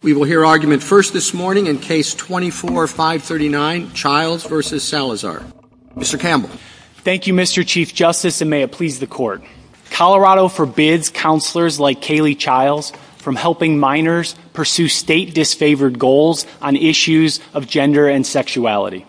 We will hear argument first this morning in Case 24-539, Chiles v. Salazar. Mr. Campbell. Thank you, Mr. Chief Justice, and may it please the Court. Colorado forbids counselors like Kaylee Chiles from helping minors pursue state-disfavored goals on issues of gender and sexuality.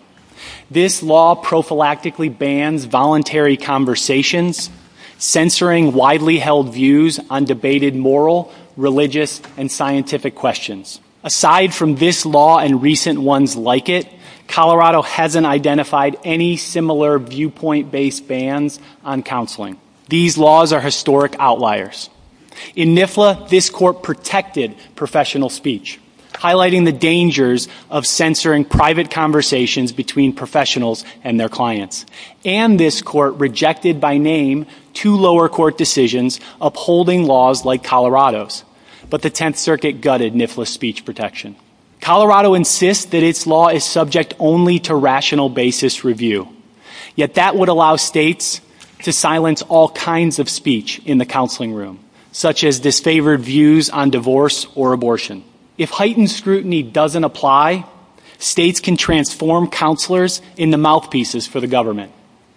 This law prophylactically bans voluntary conversations, censoring widely held views on debated moral, religious, and scientific questions. Aside from this law and recent ones like it, Colorado hasn't identified any similar viewpoint-based bans on counseling. These laws are historic outliers. In NIFLA, this Court protected professional speech, highlighting the dangers of censoring private conversations between professionals and their clients. And this Court rejected by name two lower court decisions upholding laws like Colorado's. But the Tenth Circuit gutted NIFLA's speech protection. Colorado insists that its law is subject only to rational basis review. Yet that would allow states to silence all kinds of speech in the counseling room, such as disfavored views on divorce or abortion. If heightened scrutiny doesn't apply, states can transform counselors into mouthpieces for the government.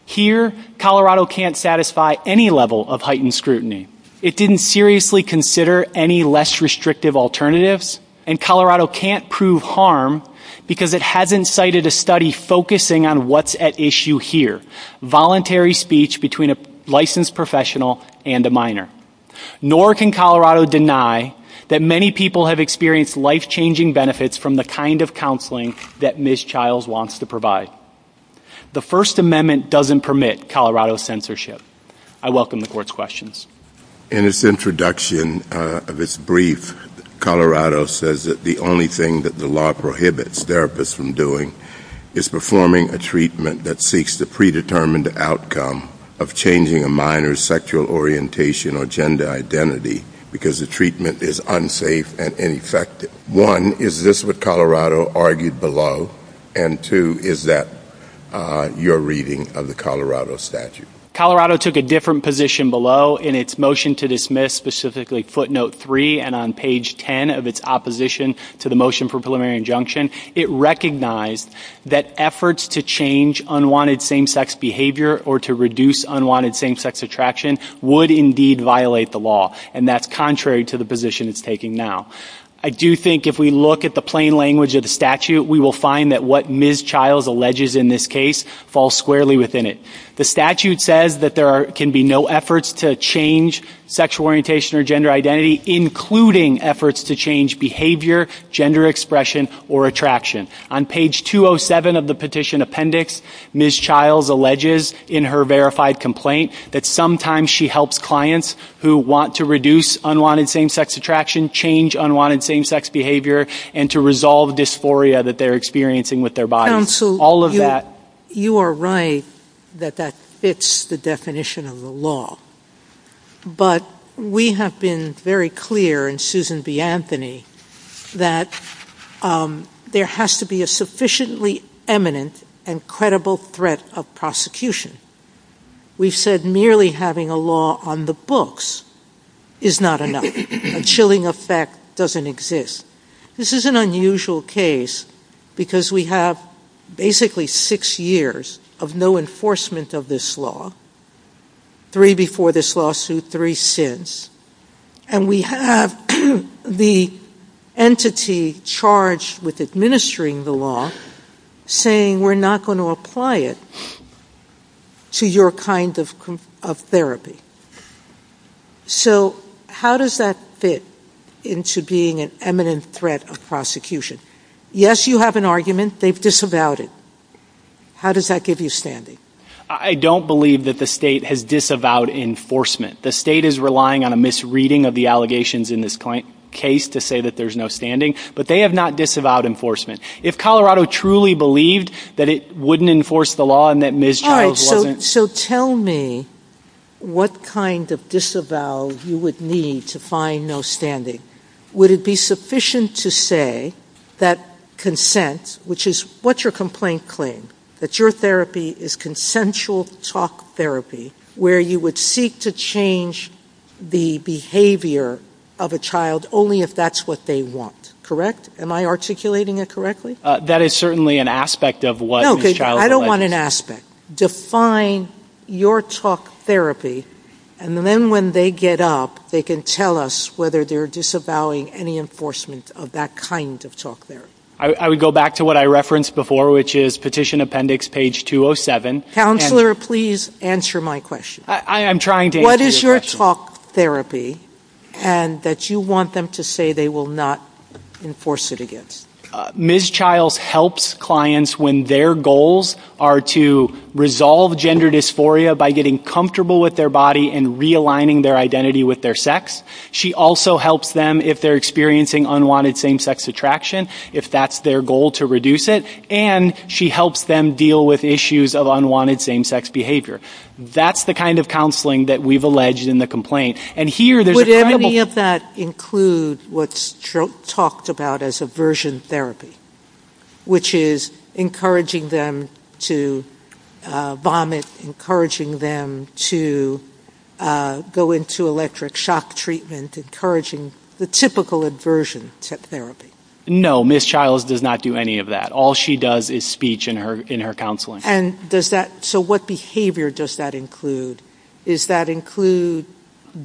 Here, Colorado can't satisfy any level of heightened scrutiny. It didn't seriously consider any less restrictive alternatives, and Colorado can't prove harm because it hasn't cited a study focusing on what's at issue here, voluntary speech between a licensed professional and a minor. Nor can Colorado deny that many people have experienced life-changing benefits from the kind of counseling that Ms. Childs wants to provide. The First Amendment doesn't permit Colorado's censorship. I welcome the Court's questions. In its introduction of its brief, Colorado says that the only thing that the law prohibits therapists from doing is performing a treatment that seeks to predetermine the outcome of changing a minor's sexual orientation or gender identity because the treatment is unsafe and ineffective. One, is this what Colorado argued below? And two, is that your reading of the Colorado statute? Colorado took a different position below in its motion to dismiss specifically footnote 3 and on page 10 of its opposition to the motion for preliminary injunction. It recognized that efforts to change unwanted same-sex behavior or to reduce unwanted same-sex attraction would indeed violate the law, and that's contrary to the position it's taking now. I do think if we look at the plain language of the statute, we will find that what Ms. Childs alleges in this case falls squarely within it. The statute says that there can be no efforts to change sexual orientation or gender identity, including efforts to change behavior, gender expression, or attraction. On page 207 of the petition appendix, Ms. Childs alleges in her verified complaint that sometimes she helps clients who want to reduce unwanted same-sex attraction, change unwanted same-sex behavior, and to resolve dysphoria that they're experiencing with their body. Counsel, you are right that that fits the definition of the law, but we have been very clear in Susan B. Anthony that there has to be a sufficiently eminent and credible threat of prosecution. We've said merely having a law on the books is not enough. A chilling effect doesn't exist. This is an unusual case because we have basically six years of no enforcement of this law, three before this lawsuit, three since, and we have the entity charged with administering the law saying, we're not going to apply it to your kind of therapy. So how does that fit into being an eminent threat of prosecution? Yes, you have an argument. They've disavowed it. How does that give you standing? I don't believe that the state has disavowed enforcement. The state is relying on a misreading of the allegations in this case to say that there's no standing, but they have not disavowed enforcement. If Colorado truly believed that it wouldn't enforce the law and that Ms. Childs wasn't- All right, so tell me what kind of disavowal you would need to find no standing. Would it be sufficient to say that consent, which is what's your complaint claim, that your therapy is consensual talk therapy, where you would seek to change the behavior of a child only if that's what they want, correct? Am I articulating it correctly? That is certainly an aspect of what Ms. Childs- Okay, I don't want an aspect. Define your talk therapy, and then when they get up, they can tell us whether they're disavowing any enforcement of that kind of talk therapy. I would go back to what I referenced before, which is petition appendix page 207. Counselor, please answer my question. I am trying to answer your question. What is your talk therapy that you want them to say they will not enforce it against? Ms. Childs helps clients when their goals are to resolve gender dysphoria by getting comfortable with their body and realigning their identity with their sex. She also helps them if they're experiencing unwanted same-sex attraction. If that's their goal, to reduce it. And she helps them deal with issues of unwanted same-sex behavior. That's the kind of counseling that we've alleged in the complaint. And here- Would any of that include what's talked about as aversion therapy, which is encouraging them to vomit, encouraging them to go into electric shock treatment, encouraging the typical aversion to therapy? No, Ms. Childs does not do any of that. All she does is speech in her counseling. So what behavior does that include? Does that include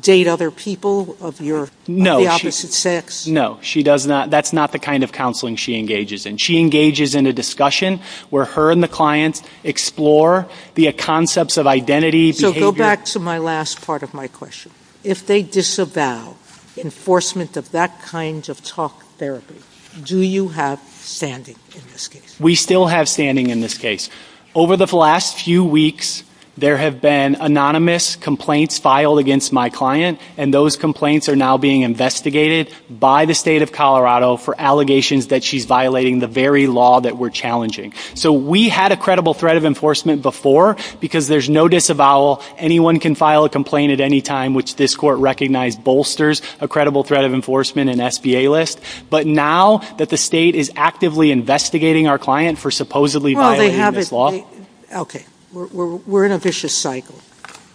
date other people of the opposite sex? No, that's not the kind of counseling she engages in. She engages in a discussion where her and the client explore the concepts of identity- So go back to my last part of my question. If they disavow enforcement of that kind of talk therapy, do you have standing in this case? We still have standing in this case. Over the last few weeks, there have been anonymous complaints filed against my client, and those complaints are now being investigated by the state of Colorado for allegations that she's violating the very law that we're challenging. So we had a credible threat of enforcement before because there's no disavowal. Anyone can file a complaint at any time which this court recognizes bolsters a credible threat of enforcement and SBA list. But now that the state is actively investigating our client for supposedly violating this law- Okay, we're in a vicious cycle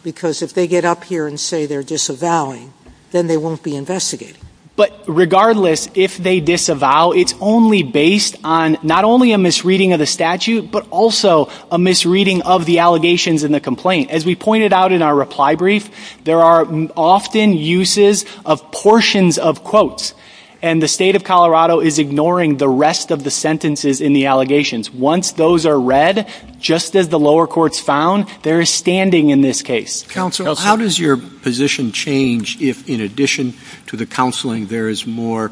because if they get up here and say they're disavowing, then they won't be investigating. But regardless, if they disavow, it's only based on not only a misreading of the statute but also a misreading of the allegations in the complaint. As we pointed out in our reply brief, there are often uses of portions of quotes, and the state of Colorado is ignoring the rest of the sentences in the allegations. Once those are read, just as the lower courts found, there is standing in this case. Counsel, how does your position change if, in addition to the counseling, there is more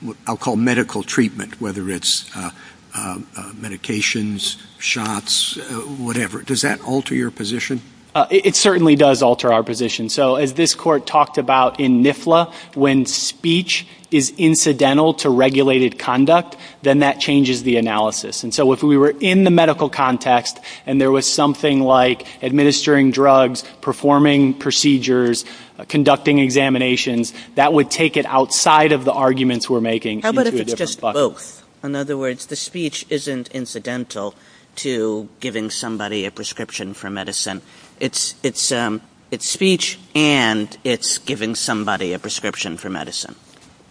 what I'll call medical treatment, whether it's medications, shots, whatever? Does that alter your position? It certainly does alter our position. As this court talked about in NIFLA, when speech is incidental to regulated conduct, then that changes the analysis. If we were in the medical context and there was something like administering drugs, performing procedures, conducting examinations, that would take it outside of the arguments we're making. How about if it's just both? In other words, the speech isn't incidental to giving somebody a prescription for medicine. It's speech and it's giving somebody a prescription for medicine.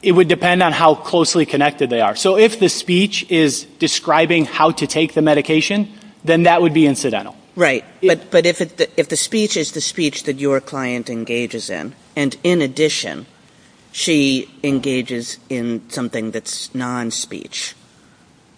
It would depend on how closely connected they are. So if the speech is describing how to take the medication, then that would be incidental. Right, but if the speech is the speech that your client engages in, and, in addition, she engages in something that's non-speech,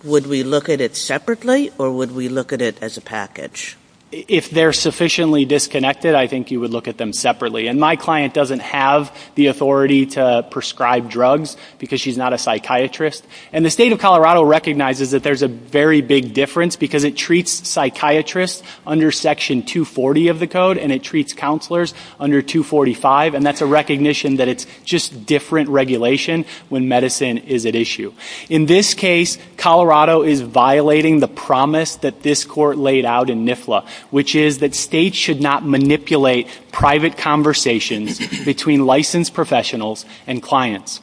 would we look at it separately or would we look at it as a package? If they're sufficiently disconnected, I think you would look at them separately. And my client doesn't have the authority to prescribe drugs because she's not a psychiatrist. And the state of Colorado recognizes that there's a very big difference because it treats psychiatrists under Section 240 of the code and it treats counselors under 245, and that's a recognition that it's just different regulation when medicine is at issue. In this case, Colorado is violating the promise that this court laid out in NIFLA, which is that states should not manipulate private conversations between licensed professionals and clients.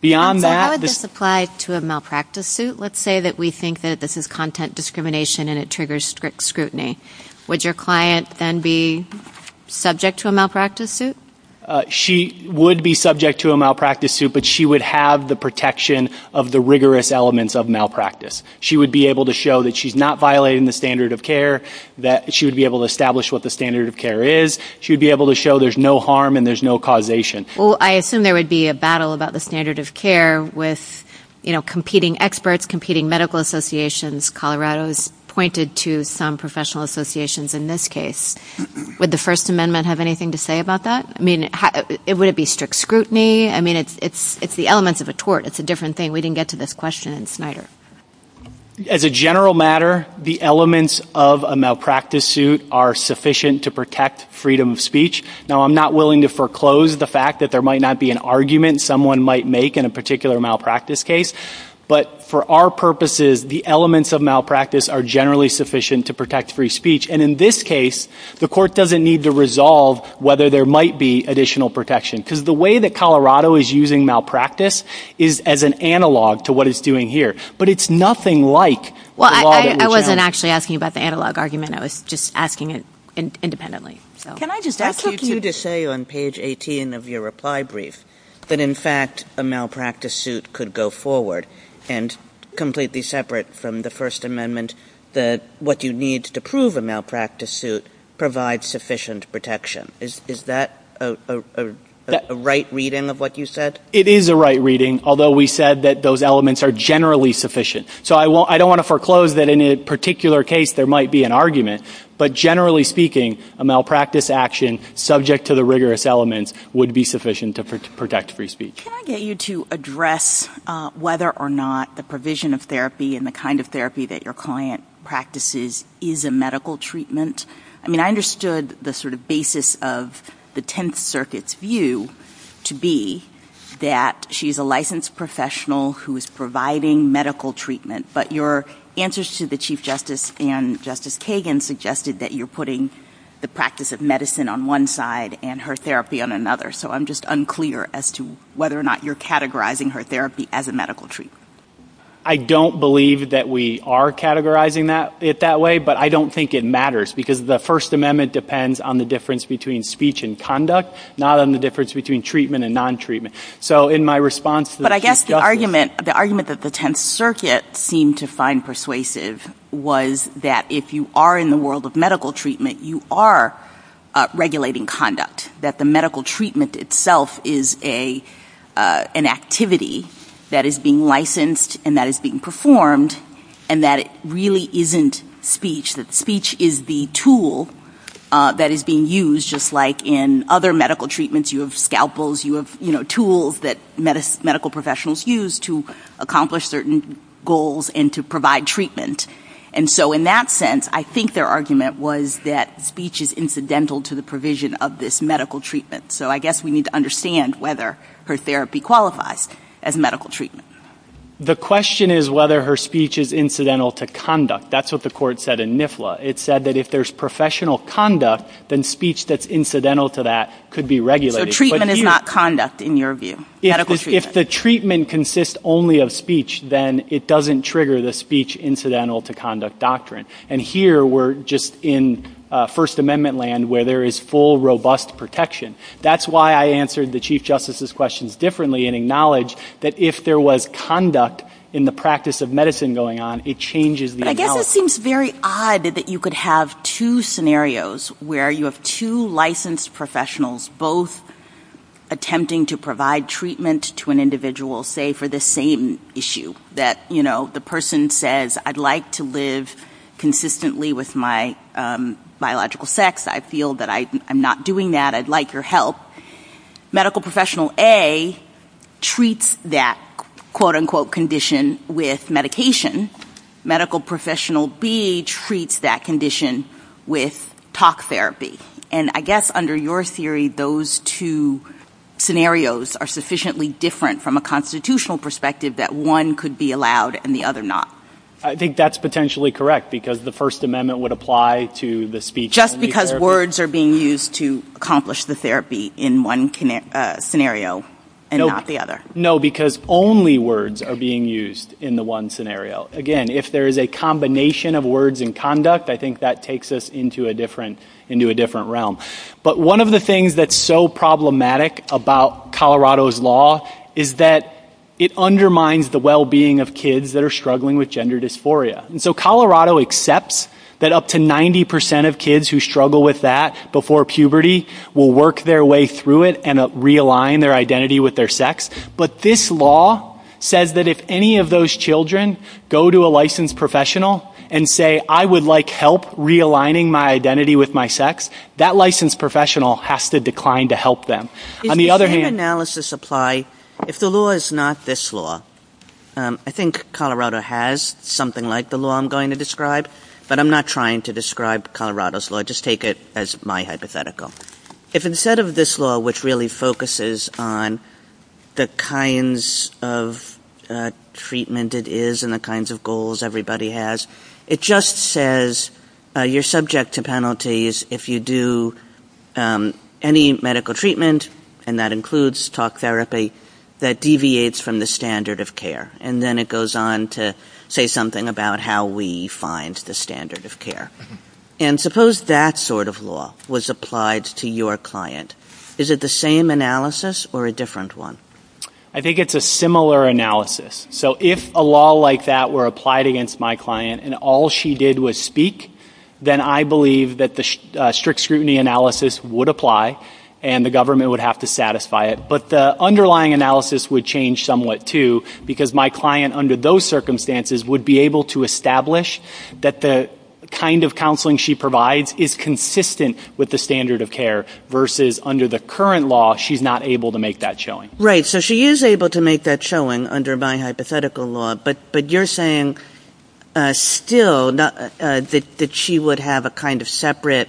Beyond that, this applies to a malpractice suit. Let's say that we think that this is content discrimination and it triggers strict scrutiny. Would your client then be subject to a malpractice suit? She would be subject to a malpractice suit, but she would have the protection of the rigorous elements of malpractice. She would be able to show that she's not violating the standard of care, that she would be able to establish what the standard of care is. She would be able to show there's no harm and there's no causation. Well, I assume there would be a battle about the standard of care with competing experts, competing medical associations. Colorado has pointed to some professional associations in this case. Would the First Amendment have anything to say about that? I mean, would it be strict scrutiny? I mean, it's the elements of a tort. It's a different thing. We didn't get to this question in this matter. As a general matter, the elements of a malpractice suit are sufficient to protect freedom of speech. Now, I'm not willing to foreclose the fact that there might not be an argument someone might make in a particular malpractice case, but for our purposes, the elements of malpractice are generally sufficient to protect free speech. And in this case, the court doesn't need to resolve whether there might be additional protection because the way that Colorado is using malpractice is as an analog to what it's doing here. But it's nothing like the law that we're trying to... Well, I wasn't actually asking about the analog argument. I was just asking it independently. Can I just ask you to say on page 18 of your reply brief that in fact a malpractice suit could go forward and completely separate from the First Amendment that what you need to prove a malpractice suit provides sufficient protection. Is that a right reading of what you said? It is a right reading, although we said that those elements are generally sufficient. So I don't want to foreclose that in a particular case there might be an argument, but generally speaking, a malpractice action subject to the rigorous elements would be sufficient to protect free speech. Can I get you to address whether or not the provision of therapy and the kind of therapy that your client practices is a medical treatment? I mean, I understood the sort of basis of the Tenth Circuit's view to be that she's a licensed professional who is providing medical treatment, but your answers to the Chief Justice and Justice Kagan suggested that you're putting the practice of medicine on one side and her therapy on another. So I'm just unclear as to whether or not you're categorizing her therapy as a medical treatment. I don't believe that we are categorizing it that way, but I don't think it matters, because the First Amendment depends on the difference between speech and conduct, not on the difference between treatment and non-treatment. So in my response to the Chief Justice... But I guess the argument that the Tenth Circuit seemed to find persuasive was that if you are in the world of medical treatment, you are regulating conduct, that the medical treatment itself is an activity that is being licensed and that is being performed and that it really isn't speech, that speech is the tool that is being used, just like in other medical treatments you have scalpels, you have tools that medical professionals use to accomplish certain goals and to provide treatment. And so in that sense, I think their argument was that speech is incidental to the provision of this medical treatment. So I guess we need to understand whether her therapy qualifies as medical treatment. The question is whether her speech is incidental to conduct. That's what the court said in NIFLA. It said that if there's professional conduct, then speech that's incidental to that could be regulated. So treatment is not conduct, in your view? If the treatment consists only of speech, then it doesn't trigger the speech-incidental-to-conduct doctrine. And here we're just in First Amendment land where there is full, robust protection. That's why I answered the Chief Justice's questions differently and acknowledged that if there was conduct in the practice of medicine going on, it changes the analysis. But I guess it seems very odd that you could have two scenarios where you have two licensed professionals both attempting to provide treatment to an individual, say, for the same issue, that, you know, the person says, I'd like to live consistently with my biological sex. I feel that I'm not doing that. I'd like your help. Medical professional A treats that quote-unquote condition with medication. Medical professional B treats that condition with talk therapy. And I guess under your theory, those two scenarios are sufficiently different from a constitutional perspective that one could be allowed and the other not. I think that's potentially correct because the First Amendment would apply to the speech therapy. Just because words are being used to accomplish the therapy in one scenario and not the other. No, because only words are being used in the one scenario. Again, if there is a combination of words and conduct, I think that takes us into a different realm. But one of the things that's so problematic about Colorado's law is that it undermines the well-being of kids that are struggling with gender dysphoria. And so Colorado accepts that up to 90% of kids who struggle with that before puberty will work their way through it and realign their identity with their sex. But this law says that if any of those children go to a licensed professional and say, I would like help realigning my identity with my sex, that licensed professional has to decline to help them. On the other hand... If the law is not this law, I think Colorado has something like the law I'm going to describe, but I'm not trying to describe Colorado's law. Just take it as my hypothetical. If instead of this law, which really focuses on the kinds of treatment it is and the kinds of goals everybody has, it just says you're subject to penalties if you do any medical treatment, and that includes talk therapy, that deviates from the standard of care. And then it goes on to say something about how we find the standard of care. And suppose that sort of law was applied to your client. Is it the same analysis or a different one? I think it's a similar analysis. So if a law like that were applied against my client and all she did was speak, then I believe that the strict scrutiny analysis would apply and the government would have to satisfy it. But the underlying analysis would change somewhat too because my client under those circumstances would be able to establish that the kind of counseling she provides is consistent with the standard of care versus under the current law she's not able to make that showing. Right, so she is able to make that showing under my hypothetical law, but you're saying still that she would have a kind of separate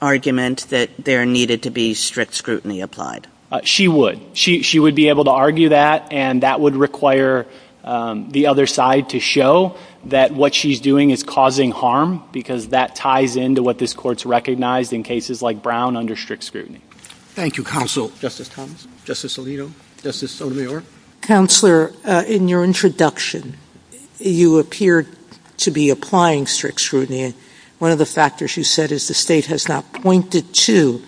argument that there needed to be strict scrutiny applied? She would. She would be able to argue that, and that would require the other side to show that what she's doing is causing harm because that ties into what this Court's recognized in cases like Brown under strict scrutiny. Thank you, Counsel. Justice Thomas? Justice Alito? Justice Sotomayor? Counselor, in your introduction, you appeared to be applying strict scrutiny. One of the factors you said is the State has not pointed to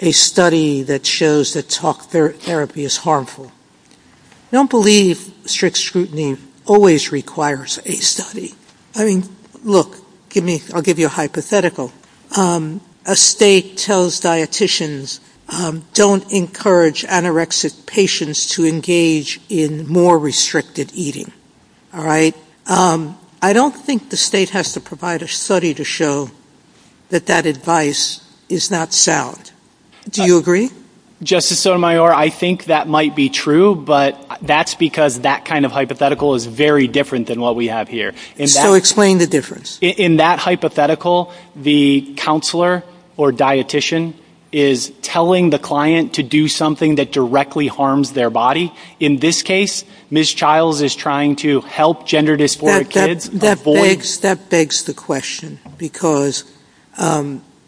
a study that shows that talk therapy is harmful. I don't believe strict scrutiny always requires a study. I mean, look, I'll give you a hypothetical. A State tells dieticians don't encourage anorexic patients to engage in more restricted eating. I don't think the State has to provide a study to show that that advice is not sound. Do you agree? Justice Sotomayor, I think that might be true, but that's because that kind of hypothetical is very different than what we have here. So explain the difference. In that hypothetical, the counselor or dietician is telling the client to do something that directly harms their body. In this case, Ms. Childs is trying to help gender dysphoric kids. That begs the question, because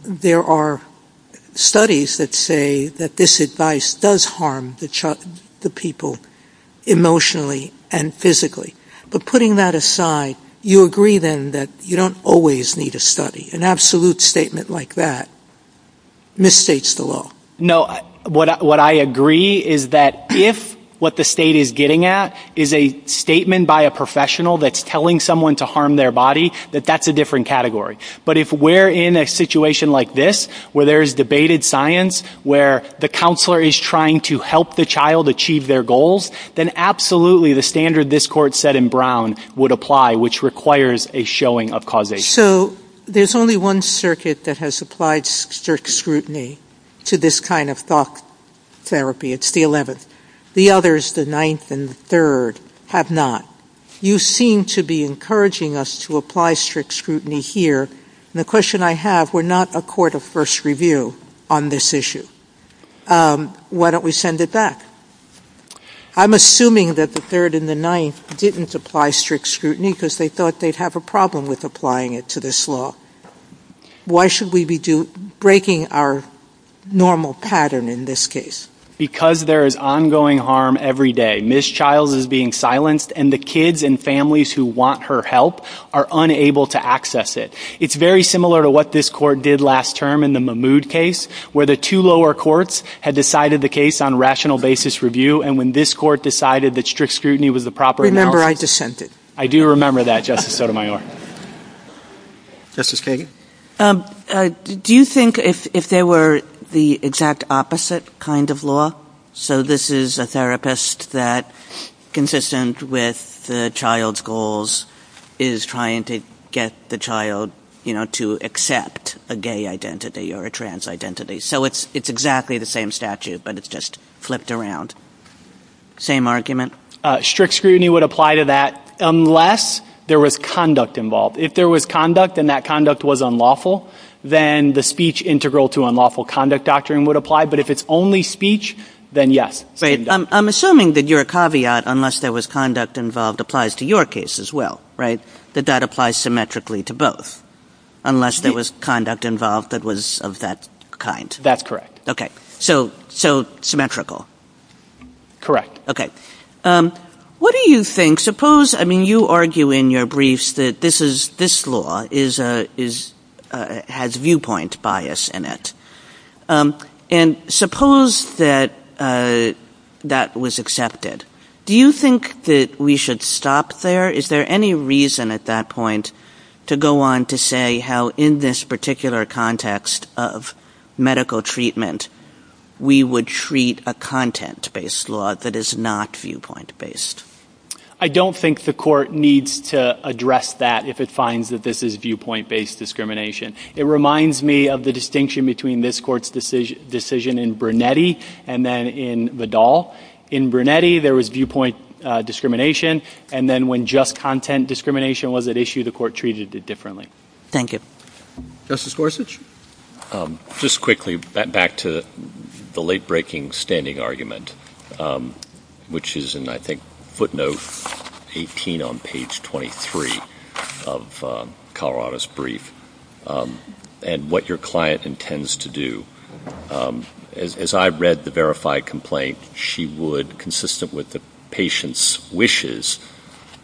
there are studies that say that this advice does harm the people emotionally and physically. But putting that aside, you agree, then, that you don't always need a study. An absolute statement like that misstates the law. No, what I agree is that if what the State is getting at is a statement by a professional that's telling someone to harm their body, that that's a different category. But if we're in a situation like this, where there's debated science, where the counselor is trying to help the child achieve their goals, then absolutely the standard this Court said in Brown would apply, which requires a showing of causation. So there's only one circuit that has applied strict scrutiny to this kind of thought therapy. It's the 11th. The others, the 9th and the 3rd, have not. You seem to be encouraging us to apply strict scrutiny here, and the question I have, we're not a court of first review on this issue. Why don't we send it back? I'm assuming that the 3rd and the 9th didn't apply strict scrutiny because they thought they'd have a problem with applying it to this law. Why should we be breaking our normal pattern in this case? Because there is ongoing harm every day. This child is being silenced, and the kids and families who want her help are unable to access it. It's very similar to what this Court did last term in the Mahmood case, where the two lower courts had decided the case on rational basis review, and when this Court decided that strict scrutiny was the proper... Remember, I dissented. I do remember that, Justice Sotomayor. Justice Kagan? Do you think if there were the exact opposite kind of law? So this is a therapist that, consistent with the child's goals, is trying to get the child, you know, to accept a gay identity or a trans identity. So it's exactly the same statute, but it's just flipped around. Same argument? Strict scrutiny would apply to that unless there was conduct involved. If there was conduct and that conduct was unlawful, then the speech integral to unlawful conduct doctrine would apply, but if it's only speech, then yes. I'm assuming that your caveat, unless there was conduct involved, applies to your case as well, right? That that applies symmetrically to both, unless there was conduct involved that was of that kind. That's correct. Okay, so symmetrical. Correct. What do you think, suppose, I mean, you argue in your briefs that this law has viewpoint bias in it, and suppose that that was accepted. Do you think that we should stop there? Is there any reason at that point to go on to say how in this particular context of medical treatment we would treat a content-based law that is not viewpoint-based? I don't think the court needs to address that if it finds that this is viewpoint-based discrimination. It reminds me of the distinction between this court's decision in Brunetti and then in Vidal. In Brunetti, there was viewpoint discrimination, and then when just content discrimination was at issue, the court treated it differently. Thank you. Justice Gorsuch? Just quickly, back to the late-breaking standing argument, which is in, I think, footnote 18 on page 23 of Colorado's brief, and what your client intends to do. As I read the verified complaint, she would, consistent with the patient's wishes,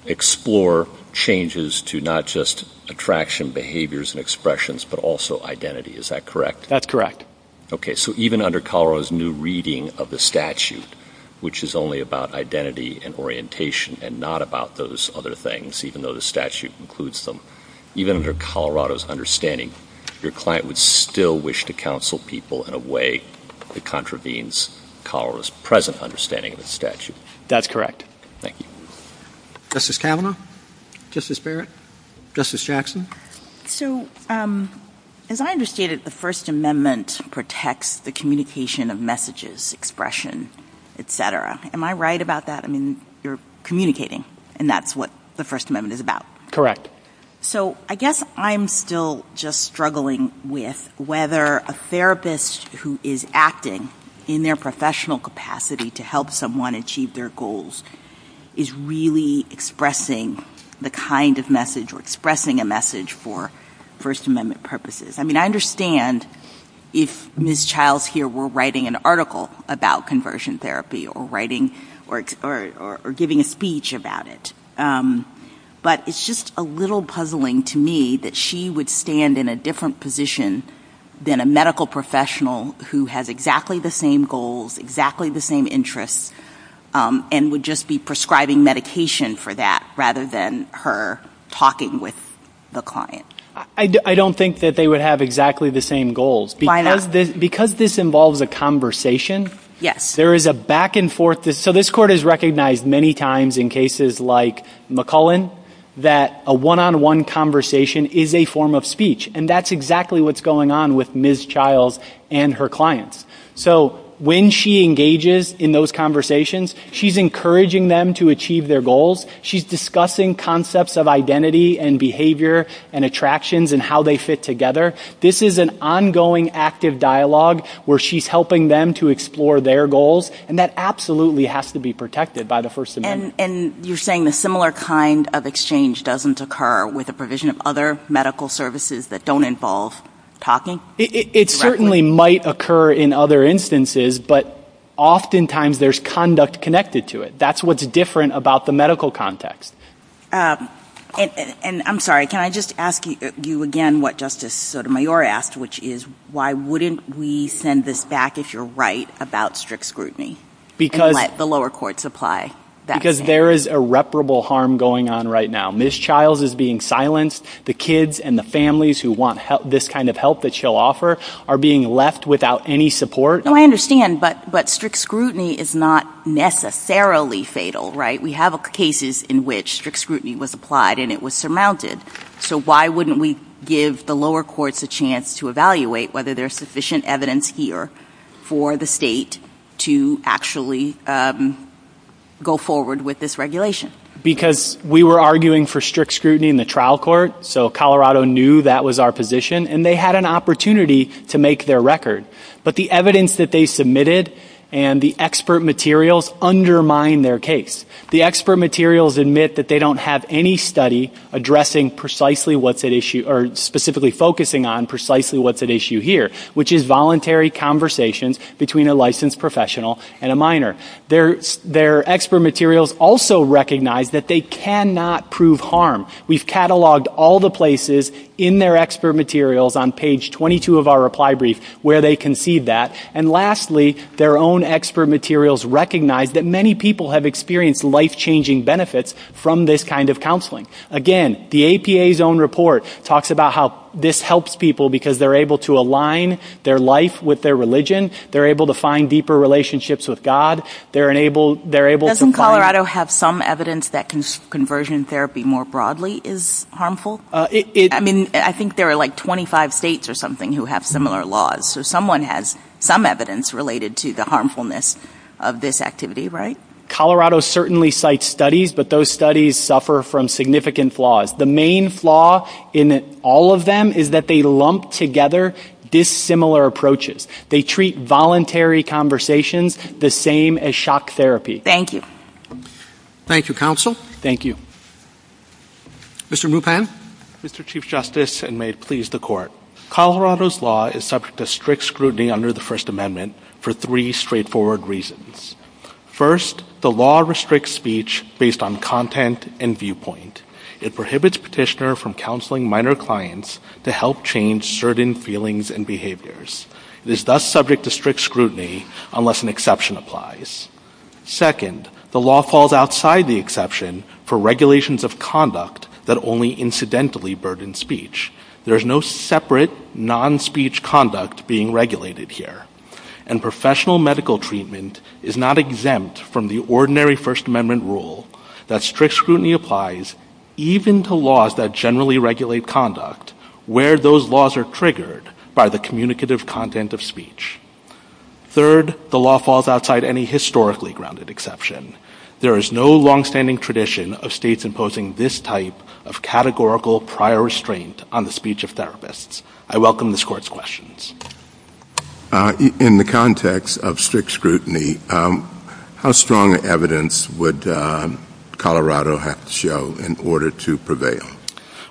explore changes to not just attraction, behaviors, and expressions, but also identity. Is that correct? That's correct. Okay, so even under Colorado's new reading of the statute, which is only about identity and orientation and not about those other things, even though the statute includes them, even under Colorado's understanding, your client would still wish to counsel people in a way that contravenes Colorado's present understanding of the statute. That's correct. Justice Kavanaugh? Justice Barrett? Justice Jackson? As I understand it, the First Amendment protects the communication of messages, expression, etc. Am I right about that? I mean, you're communicating, and that's what the First Amendment is about. Correct. So I guess I'm still just struggling with whether a therapist who is acting in their professional capacity to help someone achieve their goals is really expressing the kind of message or expressing a message for First Amendment purposes. I mean, I understand if Ms. Childs here were writing an article about conversion therapy or giving a speech about it, but it's just a little puzzling to me that she would stand in a different position than a medical professional who has exactly the same goals, exactly the same interests, and would just be prescribing medication for that rather than her talking with the client. I don't think that they would have exactly the same goals. Why not? Because this involves a conversation. Yes. So this court has recognized many times in cases like McCullen that a one-on-one conversation is a form of speech, and that's exactly what's going on with Ms. Childs and her clients. So when she engages in those conversations, she's encouraging them to achieve their goals. She's discussing concepts of identity and behavior and attractions and how they fit together. This is an ongoing active dialogue where she's helping them to explore their goals, and that absolutely has to be protected by the First Amendment. And you're saying a similar kind of exchange doesn't occur with the provision of other medical services that don't involve talking? It certainly might occur in other instances, but oftentimes there's conduct connected to it. That's what's different about the medical context. And I'm sorry, can I just ask you again what Justice Sotomayor asked, which is, why wouldn't we send this back if you're right about strict scrutiny and let the lower courts apply? Because there is irreparable harm going on right now. Ms. Childs is being silenced. The kids and the families who want this kind of help that she'll offer are being left without any support. I understand, but strict scrutiny is not necessarily fatal, right? We have cases in which strict scrutiny was applied and it was surmounted. So why wouldn't we give the lower courts a chance to evaluate whether there's sufficient evidence here for the state to actually go forward with this regulation? Because we were arguing for strict scrutiny in the trial court, so Colorado knew that was our position, and they had an opportunity to make their record. But the evidence that they submitted and the expert materials both undermine their case. The expert materials admit that they don't have any study addressing precisely what's at issue, or specifically focusing on precisely what's at issue here, which is voluntary conversations between a licensed professional and a minor. Their expert materials also recognize that they cannot prove harm. We've cataloged all the places in their expert materials on page 22 of our reply brief where they concede that. And lastly, their own expert materials recognize that many people have experienced life-changing benefits from this kind of counseling. Again, the APA's own report talks about how this helps people because they're able to align their life with their religion, they're able to find deeper relationships with God, they're able to find... Doesn't Colorado have some evidence that conversion therapy more broadly is harmful? I mean, I think there are like 25 states or something who have similar laws. So someone has some evidence related to the harmfulness of this activity, right? Colorado certainly cites studies, but those studies suffer from significant flaws. The main flaw in all of them is that they lump together dissimilar approaches. They treat voluntary conversations the same as shock therapy. Thank you. Thank you, counsel. Thank you. Mr. Mupan? Mr. Chief Justice, and may it please the Court, Colorado's law is subject to strict scrutiny under the First Amendment for three straightforward reasons. First, the law restricts speech based on content and viewpoint. It prohibits petitioner from counseling minor clients to help change certain feelings and behaviors. It is thus subject to strict scrutiny unless an exception applies. Second, the law falls outside the exception for regulations of conduct that only incidentally burden speech. There is no separate non-speech conduct being regulated here. And professional medical treatment is not exempt from the ordinary First Amendment rule that strict scrutiny applies even to laws that generally regulate conduct where those laws are triggered by the communicative content of speech. Third, the law falls outside any historically grounded exception. There is no longstanding tradition of states imposing this type of categorical prior restraint on the speech of therapists. I welcome this Court's questions. In the context of strict scrutiny, how strong evidence would Colorado have to show in order to prevail?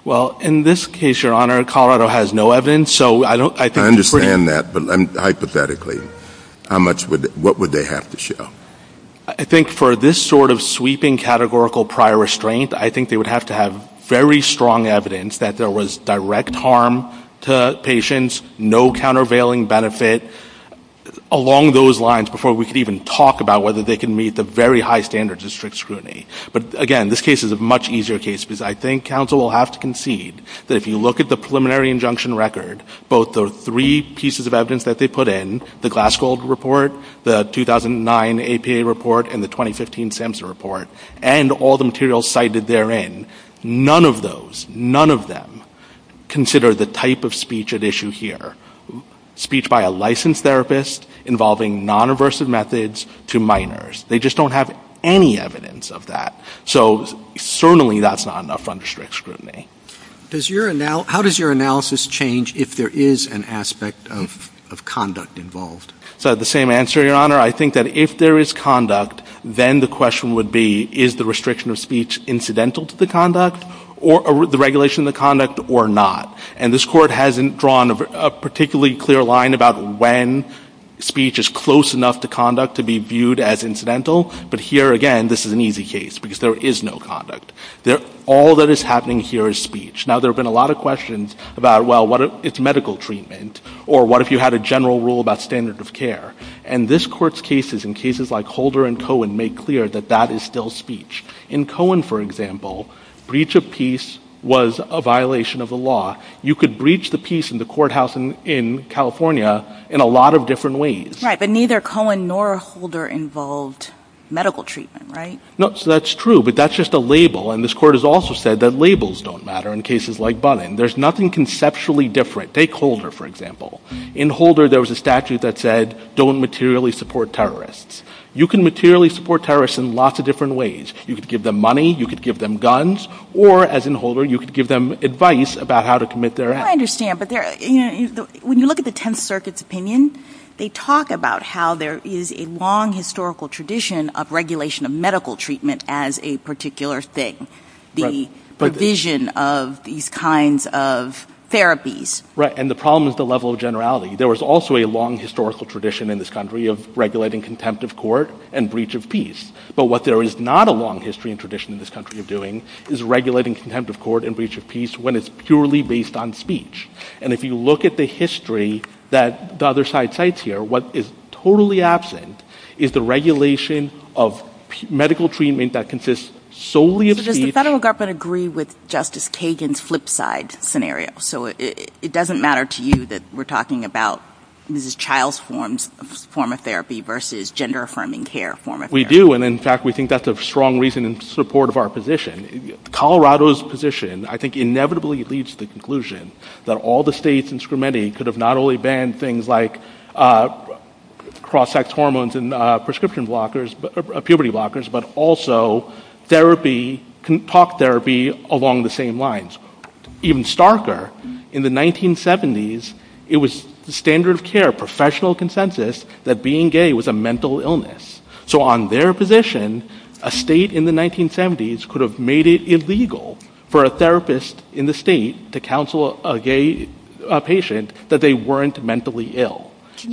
Well, in this case, Your Honor, Colorado has no evidence. I understand that, but hypothetically, what would they have to show? I think for this sort of sweeping categorical prior restraint, I think they would have to have very strong evidence that there was direct harm to patients, no countervailing benefit, along those lines before we could even talk about whether they can meet the very high standards of strict scrutiny. But again, this case is a much easier case because I think counsel will have to concede that if you look at the preliminary injunction record, both the three pieces of evidence that they put in, the Glass-Gold report, the 2009 APA report, and the 2015 SAMHSA report, and all the materials cited therein, none of those, none of them, consider the type of speech at issue here. Speech by a licensed therapist involving non-reversive methods to minors. They just don't have any evidence of that. So certainly that's not enough under strict scrutiny. How does your analysis change if there is an aspect of conduct involved? The same answer, Your Honor. I think that if there is conduct, then the question would be, is the restriction of speech incidental to the conduct or the regulation of the conduct or not? And this Court hasn't drawn a particularly clear line about when speech is close enough to conduct to be viewed as incidental, but here, again, this is an easy case because there is no conduct. All that is happening here is speech. Now, there have been a lot of questions about, well, it's medical treatment, or what if you had a general rule about standard of care? And this Court's cases and cases like Holder and Cohen make clear that that is still speech. In Cohen, for example, breach of peace was a violation of the law. You could breach the peace in the courthouse in California in a lot of different ways. Right, but neither Cohen nor Holder involved medical treatment, right? No, so that's true, but that's just a label, and this Court has also said that labels don't matter in cases like Bunin. There's nothing conceptually different. Take Holder, for example. In Holder, there was a statute that said, don't materially support terrorists. You can materially support terrorists in lots of different ways. You could give them money, you could give them guns, or, as in Holder, you could give them advice about how to commit their acts. I understand, but when you look at the Tenth Circuit's opinion, they talk about how there is a long historical tradition of regulation of medical treatment as a particular thing, the provision of these kinds of therapies. Right, and the problem is the level of generality. There was also a long historical tradition in this country of regulating contempt of court and breach of peace, but what there is not a long history and tradition in this country of doing is regulating contempt of court and breach of peace when it's purely based on speech. And if you look at the history that the other side cites here, what is totally absent is the regulation of medical treatment that consists solely of speech... But does the federal government agree with Justice Kagan's flip-side scenario? So it doesn't matter to you that we're talking about Mrs. Child's form of therapy versus gender-affirming care form of therapy? We do, and in fact, we think that's a strong reason in support of our position. Colorado's position, I think, inevitably leads to the conclusion that all the states, and for many, could have not only banned things like cross-sex hormones and prescription blockers, puberty blockers, but also therapy, talk therapy along the same lines. Even starker, in the 1970s, it was the standard of care, professional consensus, that being gay was a mental illness. So on their position, a state in the 1970s could have made it illegal for a therapist in the state to counsel a gay patient that they weren't mentally ill.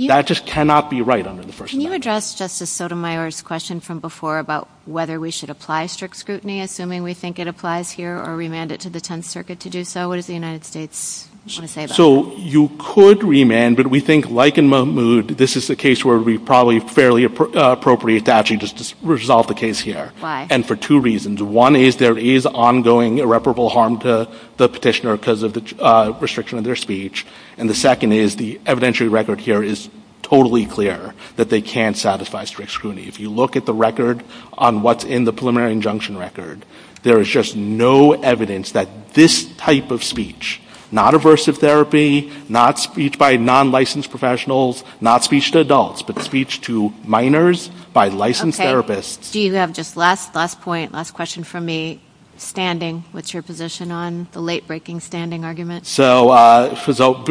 That just cannot be right under the First Amendment. Can you address Justice Sotomayor's question from before about whether we should apply strict scrutiny, assuming we think it applies here, or remand it to the Tenth Circuit to do so? What does the United States want to say about that? So you could remand, but we think, like in Mahmoud, this is a case where it would be probably fairly appropriate to actually just resolve the case here. And for two reasons. One is there is ongoing irreparable harm to the petitioner because of the restriction of their speech. And the second is the evidentiary record here is totally clear that they can't satisfy strict scrutiny. If you look at the record on what's in the preliminary injunction record, there is just no evidence that this type of speech, not aversive therapy, not speech by non-licensed professionals, not speech to adults, but speech to minors by licensed therapists. Steve, you have just last point, last question from me. Standing, what's your position on the late-breaking standing argument? So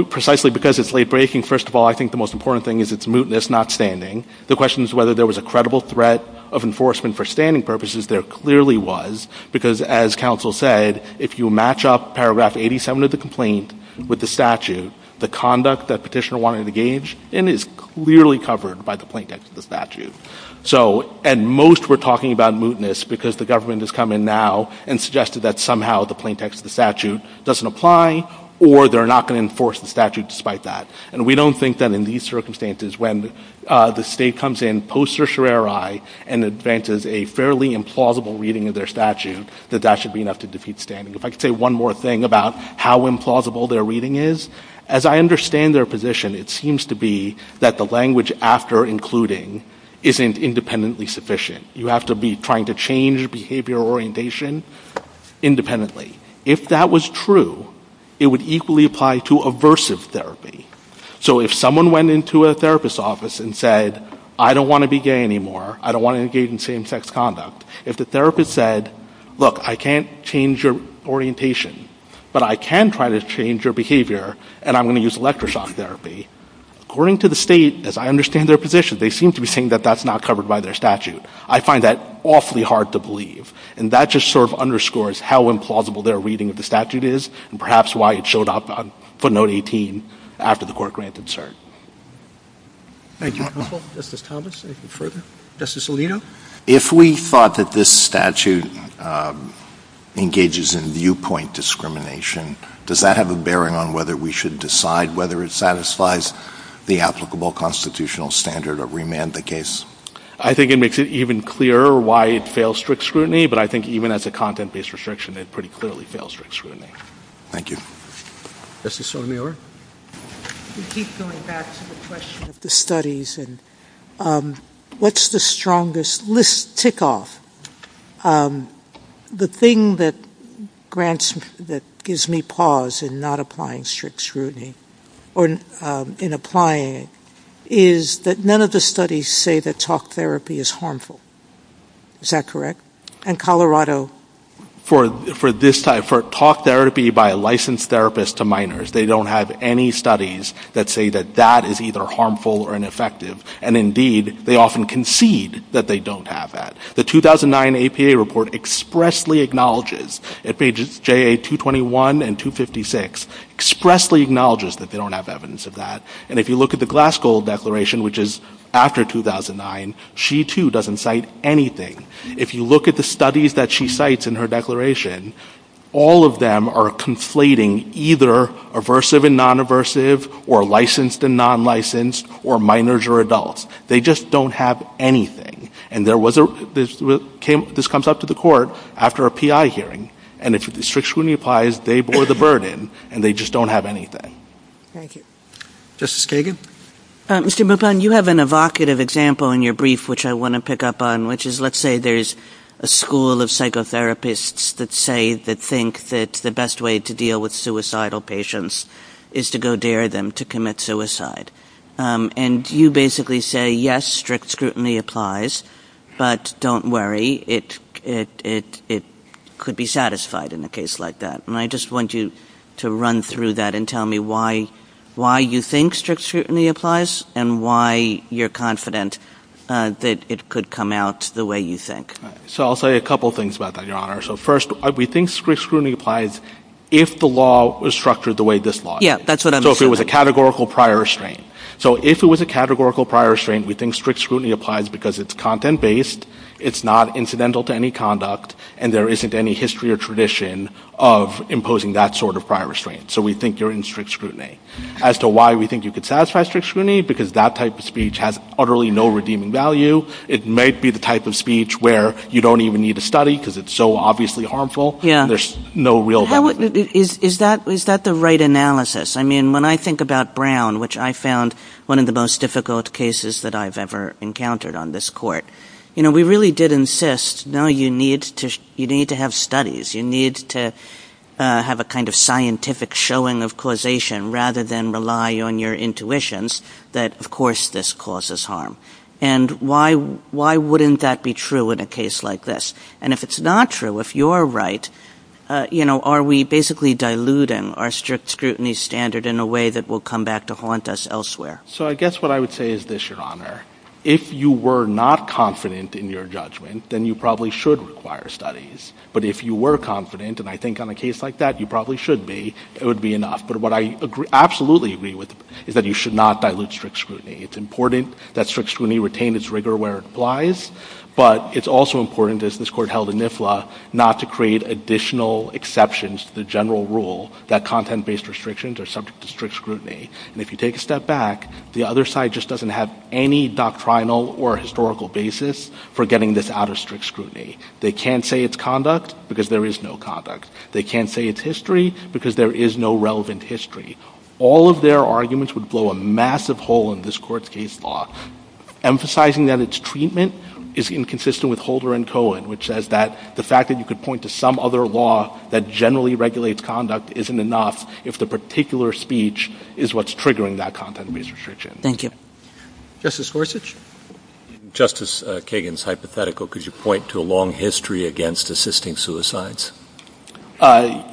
precisely because it's late-breaking, first of all, I think the most important thing is it's mootness, not standing. The question is whether there was a credible threat of enforcement for standing purposes. There clearly was, because as counsel said, if you match up paragraph 87 of the complaint with the statute, the conduct that petitioner wanted to engage in is clearly covered by the plain text of the statute. And most were talking about mootness because the government has come in now and suggested that somehow the plain text of the statute doesn't apply or they're not going to enforce the statute despite that. And we don't think that in these circumstances, when the state comes in post-Certiorari and advances a fairly implausible reading of their statute, that that should be enough to defeat standing. If I could say one more thing about how implausible their reading is, as I understand their position, it seems to be that the language after including isn't independently sufficient. You have to be trying to change behavior orientation independently. If that was true, it would equally apply to aversive therapy. So if someone went into a therapist's office and said, I don't want to be gay anymore, I don't want to engage in same-sex conduct, if the therapist said, look, I can't change your orientation, but I can try to change your behavior and I'm going to use electroshock therapy, according to the state, as I understand their position, they seem to be saying that that's not covered by their statute. I find that awfully hard to believe. And that just sort of underscores how implausible their reading of the statute is and perhaps why it showed up on footnote 18 after the court granted cert. Thank you, counsel. Justice Collins, anything further? Justice Alito? If we thought that this statute engages in viewpoint discrimination, does that have a bearing on whether we should decide whether it satisfies the applicable constitutional standard or remand the case? I think it makes it even clearer why it fails strict scrutiny, but I think even as a content-based restriction, it pretty clearly fails strict scrutiny. Thank you. Justice Sotomayor? We keep going back to the question of the studies and what's the strongest tick-off? The thing that gives me pause in not applying strict scrutiny or in applying it is that none of the studies say that talk therapy is harmful. Is that correct? And Colorado? For this type, for talk therapy by a licensed therapist to minors, they don't have any studies that say that that is either harmful or ineffective. And indeed, they often concede that they don't have that. The 2009 APA report expressly acknowledges at pages JA-221 and 256 expressly acknowledges that they don't have evidence of that. And if you look at the Glasgow Declaration, which is after 2009, she, too, doesn't cite anything. If you look at the studies that she cites in her declaration, all of them are conflating either aversive and non-aversive or licensed and non-licensed or minors or adults. They just don't have anything. And this comes up to the Court after a PI hearing. And if strict scrutiny applies, they bore the burden and they just don't have anything. Thank you. Justice Kagan? You have an evocative example in your brief, which I want to pick up on, which is let's say there's a school of psychotherapists that say that think that the best way to deal with suicidal patients is to go dare them to commit suicide. And you basically say, yes, strict scrutiny applies, but don't worry, it could be satisfied in a case like that. And I just want you to run through that and tell me why you think strict scrutiny applies and why you're confident that it could come out the way you think. So I'll say a couple things about that, Your Honor. First, we think strict scrutiny applies if the law is structured the way this law is. So if it was a categorical prior restraint. We think strict scrutiny applies because it's content-based, it's not incidental to any conduct, and there isn't any history or tradition of imposing that sort of prior restraint. So we think you're in strict scrutiny. As to why we think you could satisfy strict scrutiny, because that type of speech has utterly no redeeming value. It may be the type of speech where you don't even need to study because it's so obviously harmful. There's no real value. Is that the right analysis? I mean, when I think about Brown, which I found one of the most difficult cases that I've ever encountered on this court, you know, we really did insist, no, you need to have studies. You need to have a kind of scientific showing of causation rather than rely on your intuitions that, of course, this causes harm. And why wouldn't that be true in a case like this? And if it's not true, if you're right, are we basically diluting our strict scrutiny standard in a way that will come back to haunt us elsewhere? So I guess what I would say is this, Your Honor. If you were not confident in your judgment, then you probably should require studies. But if you were confident, and I think on a case like that you probably should be, it would be enough. But what I absolutely agree with is that you should not dilute strict scrutiny. It's important that strict scrutiny retain its rigor where it applies, but it's also important, as this court held in NIFLA, not to create additional exceptions to the general rule that content-based restrictions are subject to strict scrutiny. And if you take a step back, the other side just doesn't have any doctrinal or historical basis for getting this out of strict scrutiny. They can't say it's conduct because there is no conduct. They can't say it's history because there is no relevant history. All of their arguments would blow a massive hole in this court's case law, emphasizing that its treatment is inconsistent with Holder and Cohen, which says that the fact that you could point to some other law that generally regulates conduct isn't enough if the particular speech is what's triggering that content-based restriction. Thank you. Justice Gorsuch? Justice Kagan's hypothetical. Could you point to a long history against assisting suicides?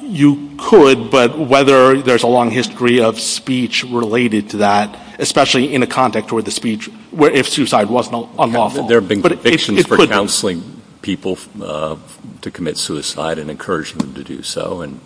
You could, but whether there's a long history of speech related to that, especially in a context where the speech, if suicide was unlawful. There have been convictions for counseling people to commit suicide and encourage them to do so and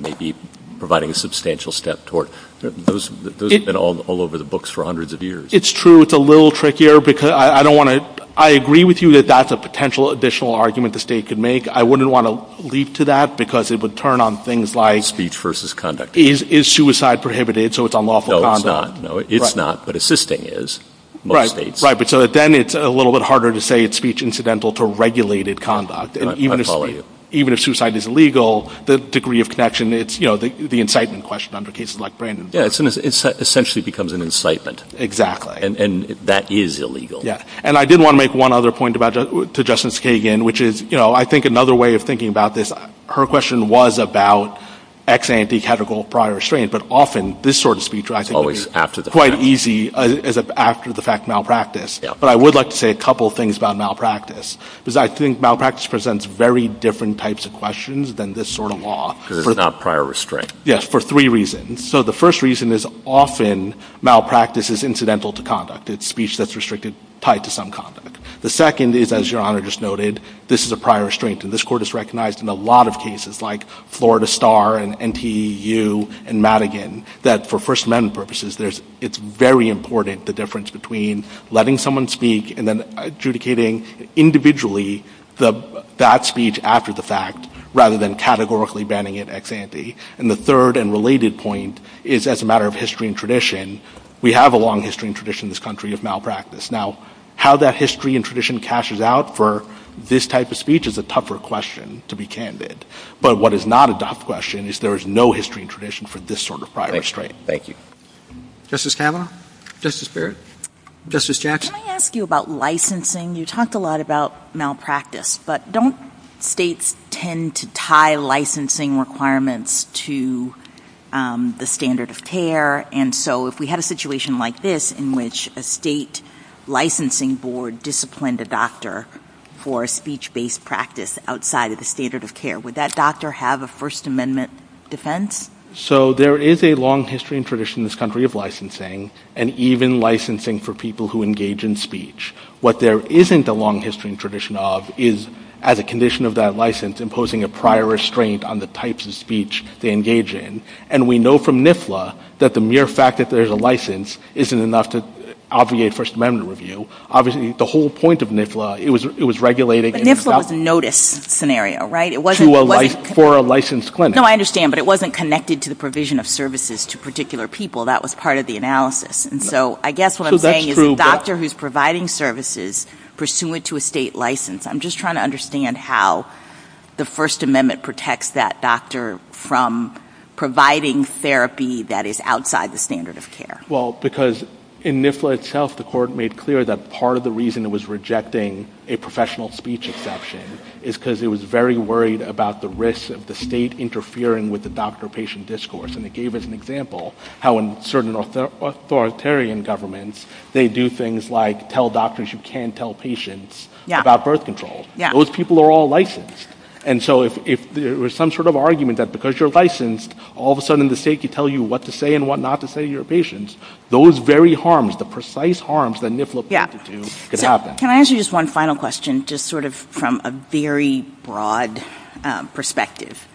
maybe providing a substantial step toward... Those have been all over the books for hundreds of years. It's true. It's a little trickier because I don't want to... I agree with you that that's a potential additional argument the state could make. I wouldn't want to leap to that because it would turn on things like... Speech versus conduct. Is suicide prohibited so it's unlawful conduct? No, it's not. It's not, but assisting is in most states. Right, but then it's a little bit harder to say it's speech incidental for regulated conduct. I follow you. Even if suicide is illegal, the degree of connection, it's the incitement question under cases like Brandon's. It essentially becomes an incitement. Exactly. And that is illegal. Yeah, and I did want to make one other point to Justice Kagan, which is I think another way of thinking about this, her question was about ex ante categorical prior restraints, but often this sort of speech is quite easy after the fact malpractice. But I would like to say a couple of things about malpractice because I think malpractice presents very different types of questions than this sort of law. Prior restraints. Yes, for three reasons. So the first reason is often malpractice is incidental to conduct. It's speech that's restricted tied to some conduct. The second is, as Your Honor just noted, this is a prior restraint and this Court has recognized in a lot of cases like Florida Star and NTEU and Madigan that for First Amendment purposes it's very important the difference between letting someone speak and then adjudicating individually that speech after the fact rather than categorically banning it ex ante. And the third and related point is as a matter of history and tradition we have a long history and tradition in this country of malpractice. Now, how that history and tradition cashes out for this type of speech is a tougher question to be candid. But what is not a tough question is there is no history and tradition for this sort of prior restraint. Thank you. Justice Kavanaugh? Justice Barrett? Justice Jackson? Can I ask you about licensing? You talked a lot about malpractice. But don't states tend to tie licensing requirements to the standard of care? And so if we had a situation like this in which a state licensing board disciplined a doctor for a speech-based practice outside of the standard of care, would that doctor have a license to do a First Amendment defense? So there is a long history and tradition in this country of licensing and even licensing for people who engage in speech. What there isn't a long history and tradition of is as a condition of that license imposing a prior restraint on the types of speech they engage in. And we know from NIFLA that the mere fact that there's a license isn't enough to obviate First Amendment review. Obviously the whole point of NIFLA, it was regulated NIFLA was a notice scenario, right? For a licensed clinic. No, I understand, but it wasn't connected to the provision of services to particular people. That was part of the analysis. And so I guess what I'm saying is a doctor who's providing services pursuant to a state license, I'm just trying to understand how the First Amendment protects that doctor from providing therapy that is outside the standard of care. Well, because in NIFLA itself, the court made clear that part of the reason it was rejecting a professional speech exception is because it was very worried about the risk of the state interfering with the doctor-patient discourse. And it gave us an example how in certain authoritarian governments, they do things like tell doctors you can't tell patients about birth control. Those people are all licensed. And so if there was some sort of argument that because you're licensed, all of a sudden the state can tell you what to say and what not to say to your patients, those very harms, the precise harms that NIFLA put through could happen. Can I ask you just one final question, just sort of from a very broad perspective?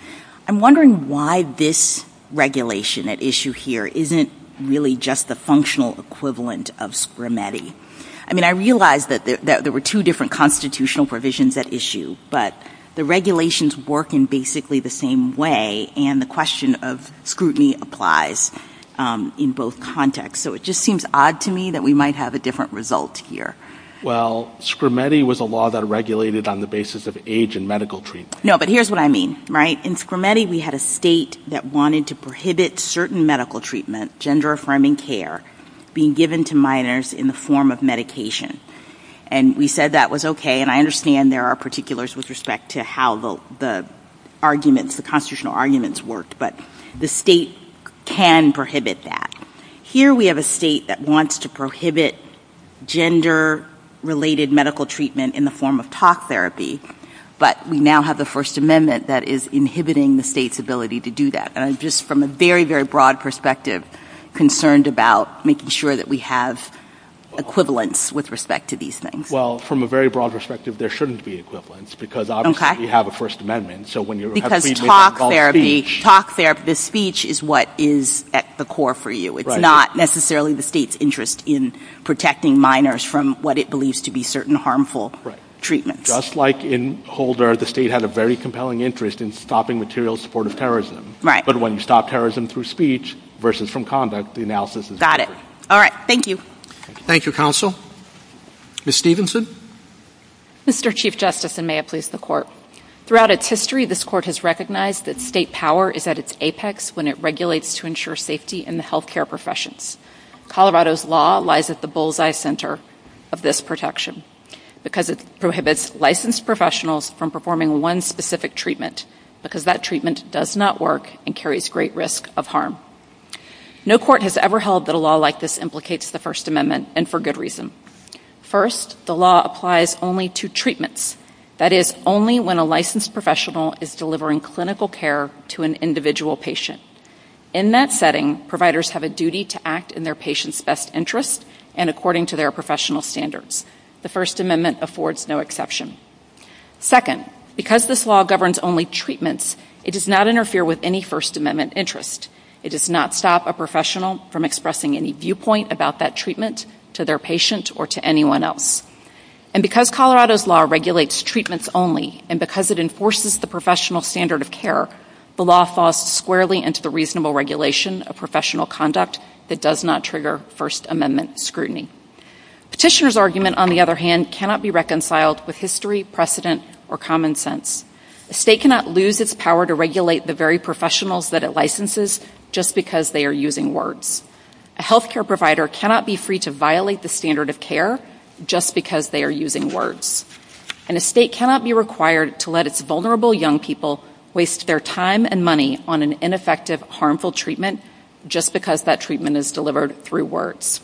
I'm wondering why this regulation at issue here isn't really just the functional equivalent of SCRMETI. I mean, I realize that there were two different constitutional provisions at issue, but the regulations work in basically the same way, and the question of scrutiny applies in both contexts. So it just seems odd to me that we might have a different result here. Well, SCRMETI was a law that regulated on the basis of age and medical treatment. No, but here's what I mean, right? In SCRMETI, we had a state that wanted to prohibit certain medical treatment, gender-affirming care, being given to minors in the form of medication. And we said that was okay, and I understand there are particulars with respect to how the arguments, the constitutional provisions can prohibit that. Here we have a state that wants to prohibit gender-related medical treatment in the form of talk therapy, but we now have the First Amendment that is inhibiting the state's ability to do that. And I'm just, from a very, very broad perspective, concerned about making sure that we have equivalence with respect to these things. Well, from a very broad perspective, there shouldn't be equivalence, because obviously you have a First Amendment. Because talk therapy, the speech is what is at the core for you. Right. It's not necessarily the state's interest in protecting minors from what it believes to be certain harmful treatments. Just like in Holder, the state had a very compelling interest in stopping material support of terrorism. But when you stop terrorism through speech versus from conduct, the analysis is different. All right. Thank you. Thank you, Counsel. Ms. Stevenson? Mr. Chief Justice, and may it please the Court. Throughout its history, this Court has recognized that state power is at its apex when it regulates to ensure safety in the health care professions. Colorado's law lies at the bullseye center of this protection, because it prohibits licensed professionals from performing one specific treatment, because that treatment does not work and carries great risk of harm. No Court has ever held that a law like this implicates the First Amendment, and for good reason. First, the law applies only to treatments. That is, only when a licensed professional is delivering clinical care to an individual patient. In that setting, providers have a duty to act in their patient's best interest and according to their professional standards. The First Amendment affords no exception. Second, because this law governs only treatments, it does not interfere with any First Amendment interest. It does not stop a professional from expressing any viewpoint about that treatment to their patient or to anyone else. And because Colorado's law regulates treatments only and because it enforces the professional standard of care, the law thaws squarely into the reasonable regulation of professional conduct that does not trigger First Amendment scrutiny. Petitioner's argument, on the other hand, cannot be reconciled with history, precedent, or common sense. A state cannot lose its power to regulate the very professionals that it licenses just because they are using words. A health care provider cannot be free to violate the standard of care just because they are using words. And a state cannot be required to let its vulnerable young people waste their time and money on an ineffective, harmful treatment just because that treatment is delivered through words.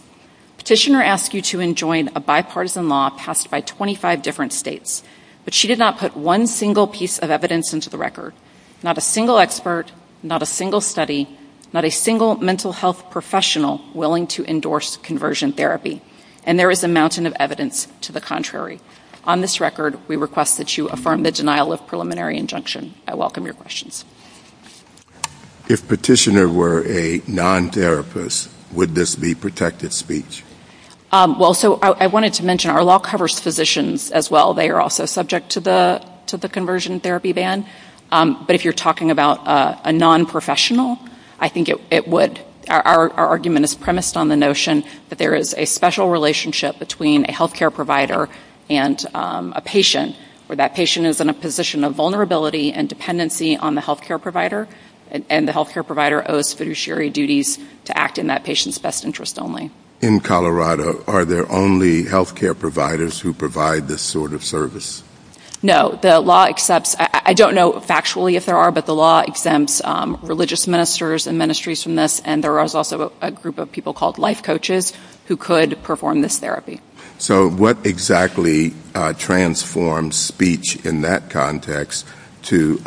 Petitioner asks you to enjoin a bipartisan law passed by 25 different states, but she did not put one single piece of evidence into the record. Not a single expert, not a single study, not a single mental health professional willing to endorse conversion therapy. And there is a mountain of evidence to the contrary. On this record, we request that you affirm the denial of preliminary injunction. I welcome your questions. If Petitioner were a non-therapist, would this be protective speech? Well, so I wanted to mention our law covers physicians as well. They are also subject to the conversion therapy ban. But if you're talking about a non-professional, I think it would. Our argument is premised on the notion that there is a special relationship between a health care provider and a patient where that patient is in a position of vulnerability and dependency on the health care provider, and the health care provider owes fiduciary duties to act in that patient's best interest only. In Colorado, are there only health care providers who provide this sort of service? No. I don't know factually if there are, but the law exempts religious ministers and ministries from this, and there is also a group of people called life coaches who could perform this therapy. So what exactly transforms speech in that context to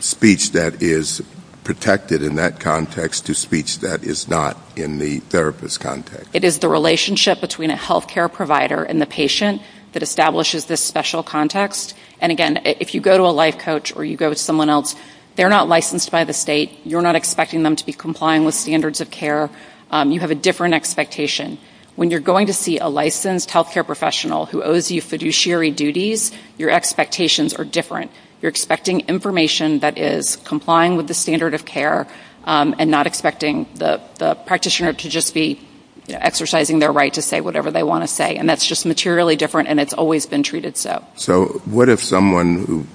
speech that is protected in that context to speech that is not in the therapist's context? It is the relationship between a health care provider and the patient that establishes this special context. And again, if you go to a life coach or you go to someone else, they're not licensed by the state. You're not expecting them to be complying with standards of care. You have a different expectation. When you're going to see a licensed health care professional who owes you fiduciary duties, your expectations are different. You're expecting information that is complying with the standard of care and not expecting the practitioner to just be exercising their right to say whatever they want to say. And that's just materially different, and it's always been treated so. So what if someone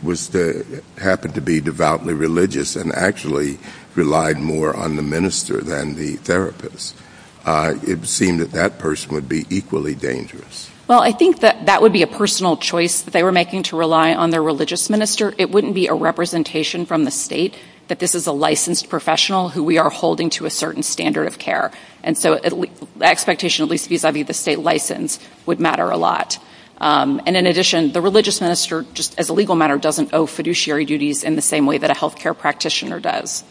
happened to be devoutly religious and actually relied more on the minister than the therapist? It would seem that that person would be equally dangerous. Well, I think that that would be a personal choice that they were making to rely on their religious minister It wouldn't be a representation from the state that this is a licensed professional who we are holding to a certain standard of care. And so that expectation, at least vis-a-vis the state license, would matter a lot. And in addition, the religious minister, as a legal matter, doesn't owe fiduciary duties in the same way that a health care practitioner does.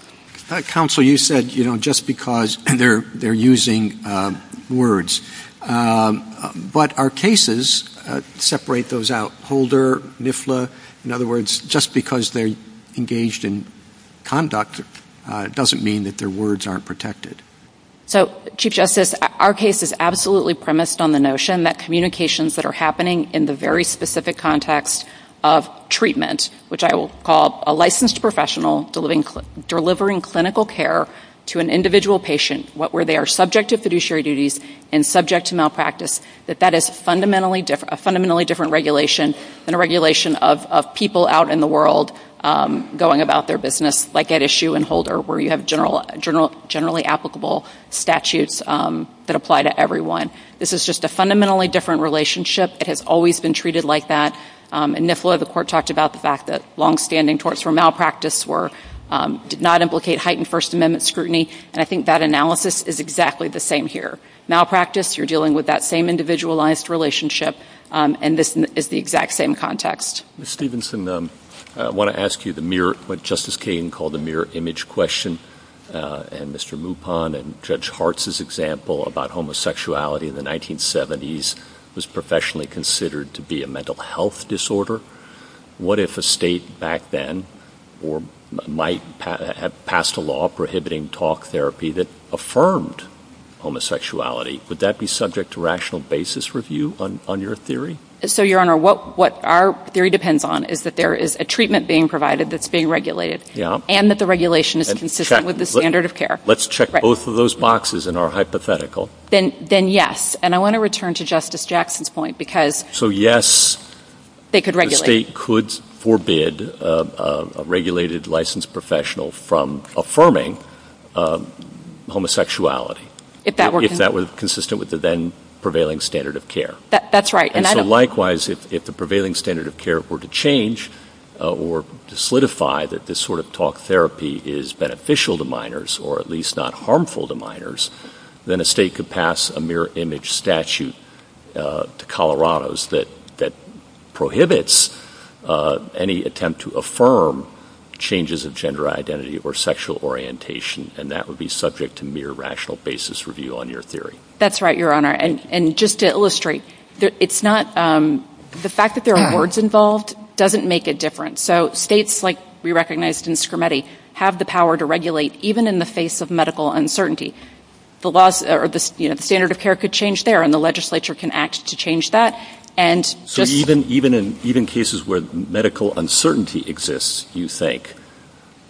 Counsel, you said just because they're using words. But our cases separate those out. In other words, just because they're engaged in conduct doesn't mean that their words aren't protected. So, Chief Justice, our case is absolutely premised on the notion that communications that are happening in the very specific context of treatment, which I will call a licensed professional delivering clinical care to an individual patient, where they are subject to fiduciary duties and subject to malpractice, that that is a fundamentally different regulation than a regulation of people out in the world going about their business, like at Issue and Holder, where you have generally applicable statutes that apply to everyone. This is just a fundamentally different relationship. It has always been treated like that. In NIFLA, the court talked about the fact that longstanding torts for malpractice did not implicate heightened First Amendment scrutiny. And I think that analysis is exactly the same here. Malpractice, you're dealing with that same individualized relationship, and this is the exact same context. Ms. Stephenson, I want to ask you the mirror, what Justice Kagan called the mirror image question, and Mr. Lupon and Judge Hart's example about homosexuality in the 1970s was professionally considered to be a mental health disorder. What if a state back then might have passed a law prohibiting talk therapy that affirmed homosexuality? Would that be subject to rational basis review on your theory? So, Your Honor, what our theory depends on is that there is a treatment being provided that's being regulated and that the regulation is consistent with the standard of care. Let's check both of those boxes in our hypothetical. Then yes, and I want to return to Justice Jackson's point because they could regulate. A state could forbid a regulated licensed professional from affirming homosexuality if that were consistent with the then prevailing standard of care. That's right. And so likewise, if the prevailing standard of care were to change or to solidify that this sort of talk therapy is beneficial to minors or at least not harmful to minors, then a state could pass a mirror image statute to Colorados that prohibits any attempt to affirm changes of gender identity or sexual orientation, and that would be subject to mere rational basis review on your theory. That's right, Your Honor. And just to illustrate, the fact that there are words involved doesn't make a difference. So states like we recognized in Scrimeti have the power to regulate even in the face of medical uncertainty. The standard of care could change there, and the legislature can act to change that. So even in cases where medical uncertainty exists, do you think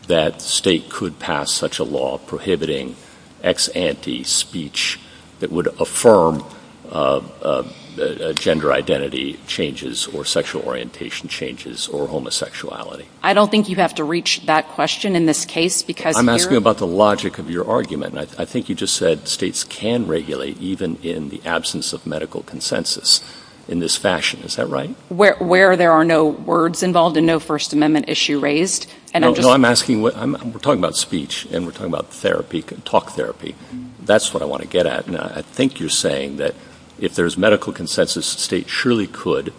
that a state could pass such a law prohibiting ex ante speech that would affirm gender identity changes or sexual orientation changes or homosexuality? I don't think you'd have to reach that question in this case. I'm asking about the logic of your argument. I think you just said states can regulate even in the absence of medical consensus in this fashion. Is that right? Where there are no words involved and no First Amendment issue raised. We're talking about speech, and we're talking about talk therapy. That's what I want to get at. And I think you're saying that if there's medical consensus, states surely could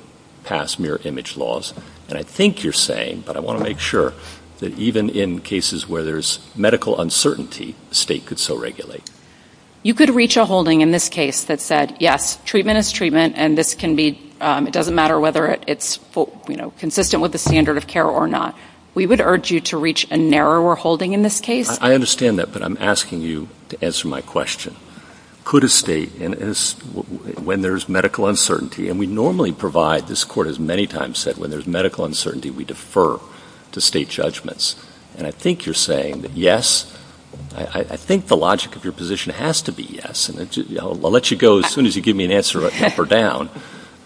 pass mere image laws. And I think you're saying, but I want to make sure, that even in cases where there's medical uncertainty, states could still regulate. You could reach a holding in this case that said, yes, treatment is treatment, and it doesn't matter whether it's consistent with the standard of care or not. We would urge you to reach a narrower holding in this case. I understand that, but I'm asking you to answer my question. Could a state, when there's medical uncertainty, and we normally provide, this court has many times said, when there's medical uncertainty, we defer to state judgments. And I think you're saying that yes, I think the logic of your position has to be yes. I'll let you go as soon as you give me an answer or down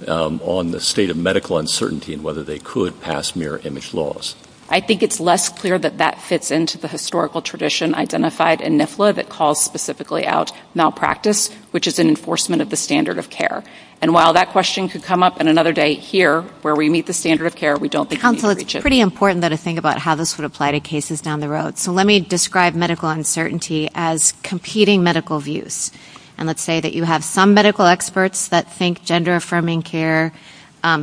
on the state of medical uncertainty and whether they could pass mere image laws. I think it's less clear that that fits into the historical tradition identified in NIFLA that calls specifically out malpractice, which is an enforcement of the standard of care. And while that question could come up on another day here, where we meet the standard of care, we don't think we can reach it. It's pretty important to think about how this would apply to cases down the road. So let me describe medical uncertainty as competing medical views. And let's say that you have some medical experts that think gender-affirming care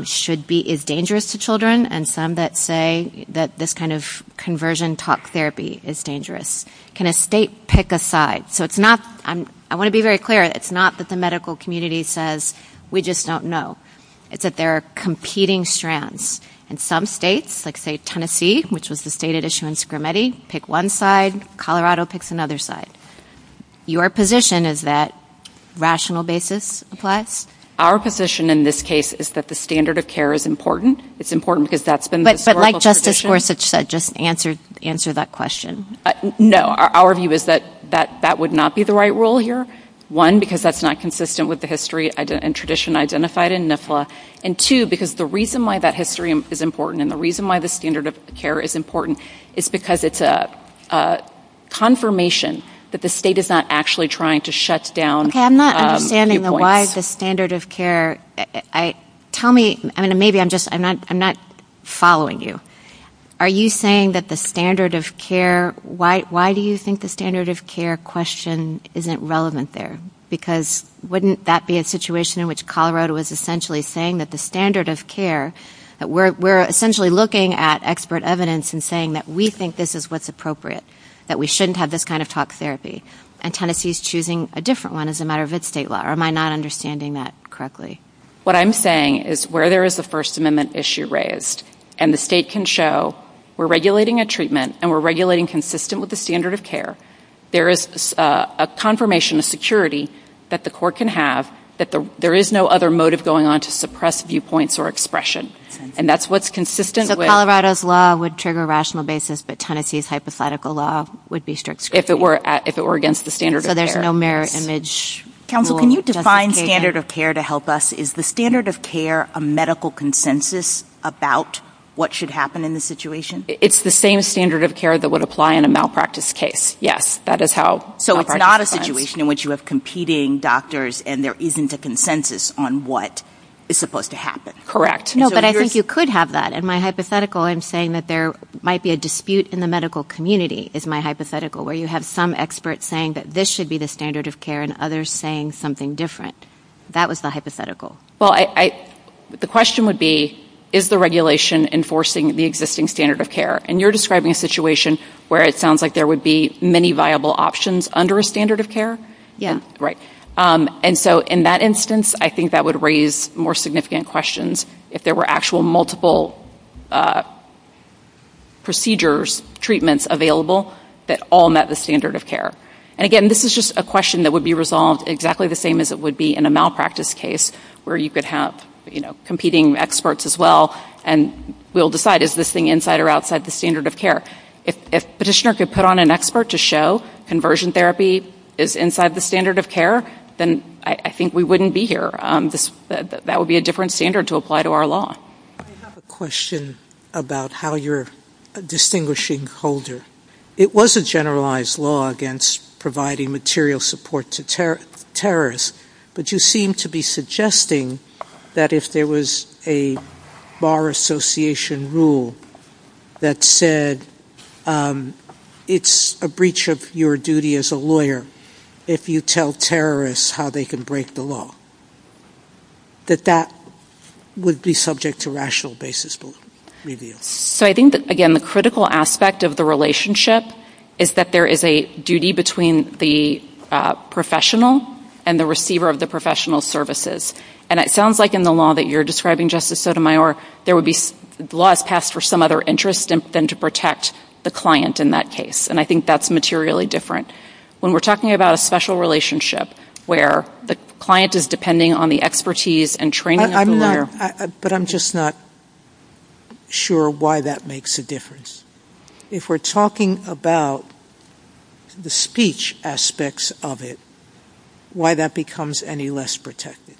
should be, is dangerous to children, and some that say that this kind of conversion talk therapy is dangerous. Can a state pick a side? So it's not, I want to be very clear, it's not that the medical community says we just don't know. It's that there are competing strands. In some states, like say Tennessee, which was the state of issue in Scrimedi, pick one side, Colorado picks another side. Your position is that rational basis applies? Our position in this case is that the standard of care is important. It's important because that's been the historical tradition. But like Justice Gorsuch said, just answer that question. No, our view is that that would not be the right rule here. One, because that's not consistent with the history and tradition identified in NIFLA. And two, because the reason why that history is important and the reason why the standard of care is important is because it's a confirmation that the state is not actually trying to shut down viewpoints. Okay, I'm not understanding why the standard of care, maybe I'm not following you. Are you saying that the standard of care, why do you think the standard of care question isn't relevant there? Because wouldn't that be a situation in which Colorado was essentially saying that the standard of care, we're essentially looking at expert evidence and saying that we think this is what's appropriate, that we shouldn't have this kind of talk therapy. And Tennessee is choosing a different one as a matter of its state law. Am I not understanding that correctly? What I'm saying is where there is a First Amendment issue raised and the state can show we're regulating a treatment and we're regulating consistent with the standard of care, there is a confirmation of security that the court can have that there is no other motive going on to suppress viewpoints or expression. And that's what's consistent with... So Colorado's law would trigger a rational basis, but Tennessee's hypothetical law would be strict scrutiny. If it were against the standard of care. So there's no mirror image. Counsel, can you define standard of care to help us? Is the standard of care a medical consensus about what should happen in the situation? It's the same standard of care that would apply in a malpractice case, yes. So it's not a situation in which you have competing doctors and there isn't a consensus on what is supposed to happen. Correct. No, but I think you could have that. In my hypothetical, I'm saying that there might be a dispute in the medical community is my hypothetical, where you have some experts saying that this should be the standard of care and others saying something different. That was the hypothetical. Well, the question would be, is the regulation enforcing the existing standard of care? And you're describing a situation where it sounds like there would be many viable options under a standard of care? Yeah. Right. And so in that instance, I think that would raise more significant questions if there were actual multiple procedures, treatments available that all met the standard of care. And again, this is just a question that would be resolved exactly the same as it would be in a malpractice case where you could have competing experts as well and we'll decide is this thing inside or outside the standard of care. If Petitioner could put on an expert to show conversion therapy is inside the standard of care, then I think we wouldn't be here. That would be a different standard to apply to our law. I have a question about how you're distinguishing Holder. It was a generalized law against providing material support to terrorists, but you seem to be suggesting that if there was a Bar Association rule that said it's a breach of your duty as a lawyer if you tell terrorists how they can break the law, that that would be subject to rational basis review. So I think that, again, the critical aspect of the relationship is that there is a duty between the professional and the receiver of the professional services. And it sounds like in the law that you're describing, Justice Sotomayor, there would be laws passed for some other interest than to protect the client in that case, and I think that's materially different. When we're talking about a special relationship where the client is depending on the expertise and training of the lawyer... But I'm just not sure why that makes a difference. If we're talking about the speech aspects of it, why that becomes any less protected.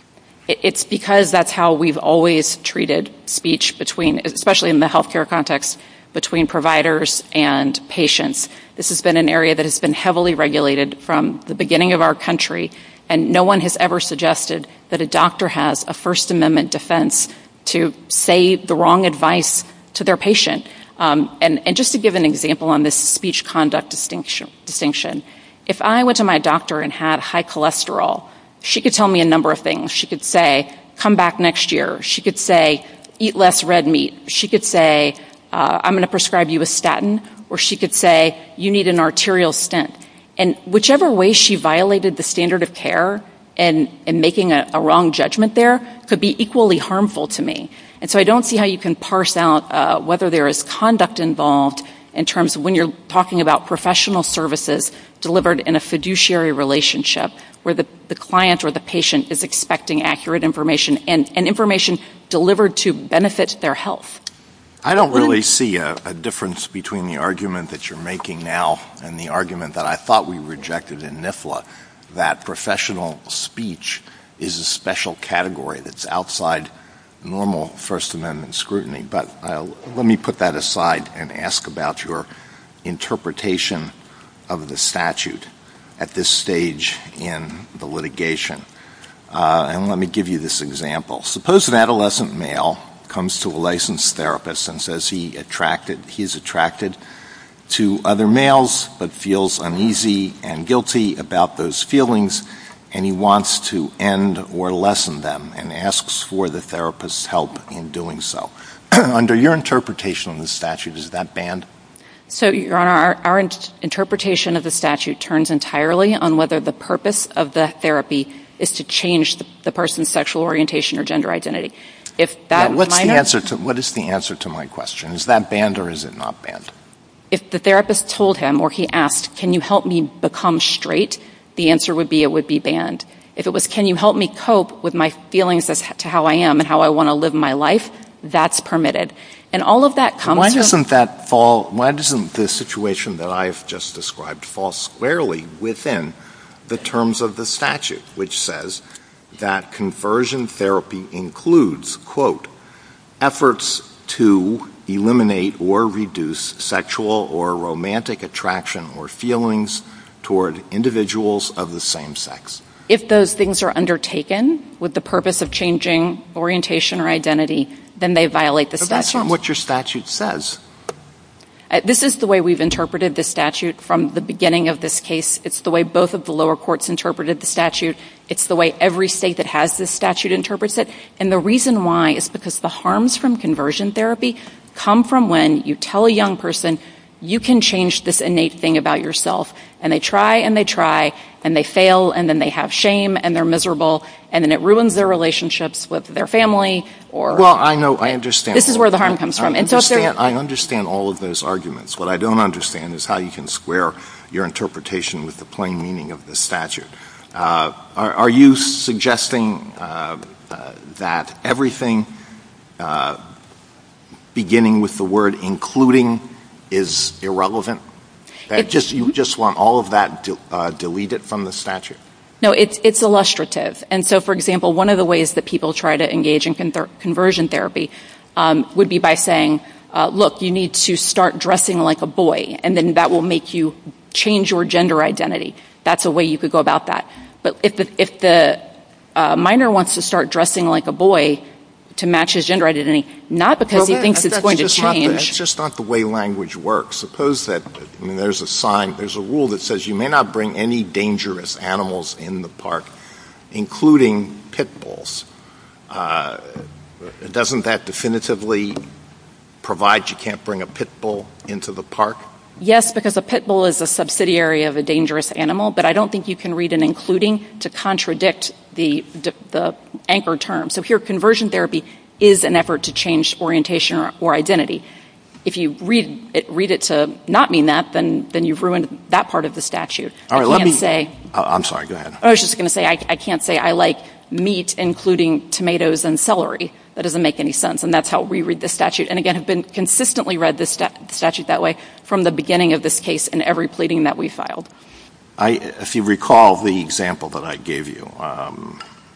It's because that's how we've always treated speech, especially in the health care context, between providers and patients. This has been an area that has been heavily regulated from the beginning of our country, and no one has ever suggested that a doctor has a First Amendment defense to say the wrong advice to their patient. And just to give an example on this speech conduct distinction, if I went to my doctor and had high cholesterol, she could tell me a number of things. She could say, come back next year. She could say, eat less red meat. She could say, I'm going to prescribe you a statin. Or she could say, you need an arterial stent. And whichever way she violated the standard of care and making a wrong judgment there could be equally harmful to me. And so I don't see how you can parse out whether there is conduct involved in terms of when you're talking about professional services delivered in a fiduciary relationship where the client or the patient is expecting accurate information and information delivered to benefit their health. I don't really see a difference between the argument that you're making now and the argument that I thought we rejected in NIFLA, that professional speech is a special category that's outside normal First Amendment scrutiny. But let me put that aside and ask about your interpretation of the statute at this stage in the litigation. And let me give you this example. Suppose an adolescent male comes to a licensed therapist and says he is attracted to other males but feels uneasy and guilty about those feelings and he wants to end or lessen them and asks for the therapist's help in doing so. Under your interpretation of the statute, is that banned? So, Your Honor, our interpretation of the statute turns entirely on whether the purpose of the therapy is to change the person's sexual orientation or gender identity. What is the answer to my question? Is that banned or is it not banned? If the therapist told him or he asked, can you help me become straight, the answer would be it would be banned. If it was can you help me cope with my feelings as to how I am and how I want to live my life, that's permitted. Why doesn't the situation that I've just described fall squarely within the terms of the statute, which says that conversion therapy includes, quote, If those things are undertaken with the purpose of changing orientation or identity, then they violate the statute. But that's not what your statute says. This is the way we've interpreted the statute from the beginning of this case. It's the way both of the lower courts interpreted the statute. It's the way every state that has this statute interprets it. And the reason why is because the harms from conversion therapy come from when you tell a young person you can change this innate thing about yourself. And they try and they try and they fail and then they have shame and they're miserable and then it ruins their relationships with their family. Well, I know, I understand. This is where the harm comes from. I understand all of those arguments. What I don't understand is how you can square your interpretation with the plain meaning of the statute. Are you suggesting that everything beginning with the word including is irrelevant? You just want all of that deleted from the statute? No, it's illustrative. And so, for example, one of the ways that people try to engage in conversion therapy would be by saying, look, you need to start dressing like a boy and then that will make you change your gender identity. That's a way you could go about that. But if the minor wants to start dressing like a boy to match his gender identity, not because he thinks it's going to change. That's just not the way language works. Suppose that there's a sign, there's a rule that says you may not bring any dangerous animals in the park, including pit bulls. Doesn't that definitively provide you can't bring a pit bull into the park? Yes, because a pit bull is a subsidiary of a dangerous animal, but I don't think you can read an including to contradict the anchor term. So here, conversion therapy is an effort to change orientation or identity. If you read it to not mean that, then you've ruined that part of the statute. I'm sorry, go ahead. I was just going to say I can't say I like meat, including tomatoes and celery. That doesn't make any sense, and that's how we read the statute. And again, I've consistently read the statute that way from the beginning of this case in every pleading that we filed. If you recall the example that I gave you,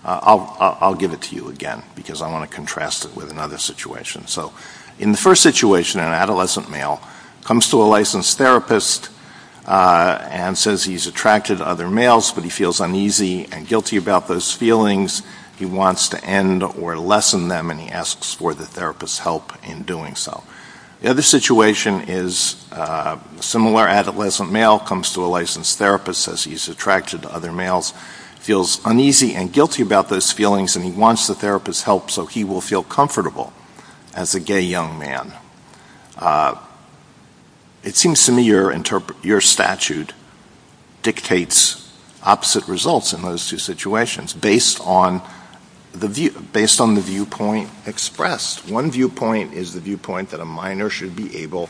I'll give it to you again, because I want to contrast it with another situation. So in the first situation, an adolescent male comes to a licensed therapist and says he's attracted to other males, but he feels uneasy and guilty about those feelings. He wants to end or lessen them, and he asks for the therapist's help in doing so. The other situation is a similar adolescent male comes to a licensed therapist, says he's attracted to other males, feels uneasy and guilty about those feelings, and he wants the therapist's help so he will feel comfortable as a gay young man. It seems to me your statute dictates opposite results in those two situations based on the viewpoint expressed. One viewpoint is the viewpoint that a minor should be able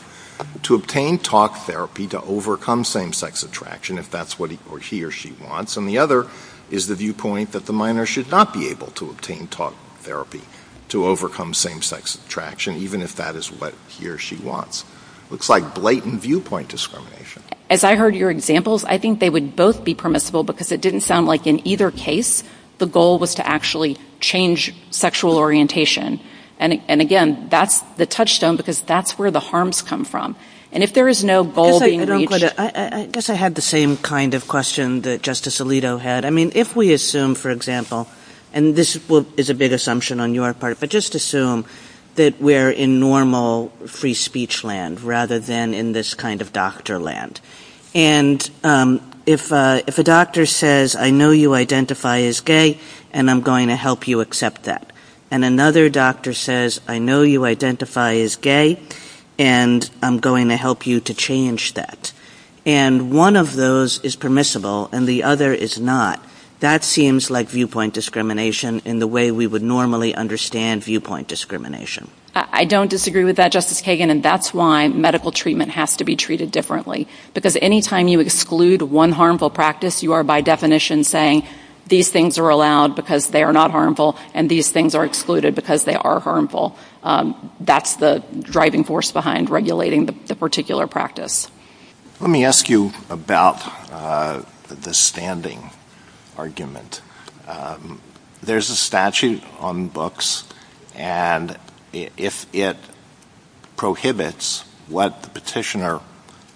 to obtain talk therapy to overcome same-sex attraction, if that's what he or she wants, and the other is the viewpoint that the minor should not be able to obtain talk therapy to overcome same-sex attraction, even if that is what he or she wants. It looks like blatant viewpoint discrimination. As I heard your examples, I think they would both be permissible because it didn't sound like in either case the goal was to actually change sexual orientation. And again, that's the touchstone because that's where the harms come from. And if there is no goal being reached... I guess I had the same kind of question that Justice Alito had. I mean, if we assume, for example, and this is a big assumption on your part, but just assume that we're in normal free speech land rather than in this kind of doctor land. And if a doctor says, I know you identify as gay and I'm going to help you accept that, and another doctor says, I know you identify as gay and I'm going to help you to change that, and one of those is permissible and the other is not, that seems like viewpoint discrimination in the way we would normally understand viewpoint discrimination. I don't disagree with that, Justice Kagan, and that's why medical treatment has to be treated differently. Because any time you exclude one harmful practice, you are by definition saying these things are allowed because they are not harmful and these things are excluded because they are harmful. That's the driving force behind regulating the particular practice. Let me ask you about the standing argument. There's a statute on books and if it prohibits what the petitioner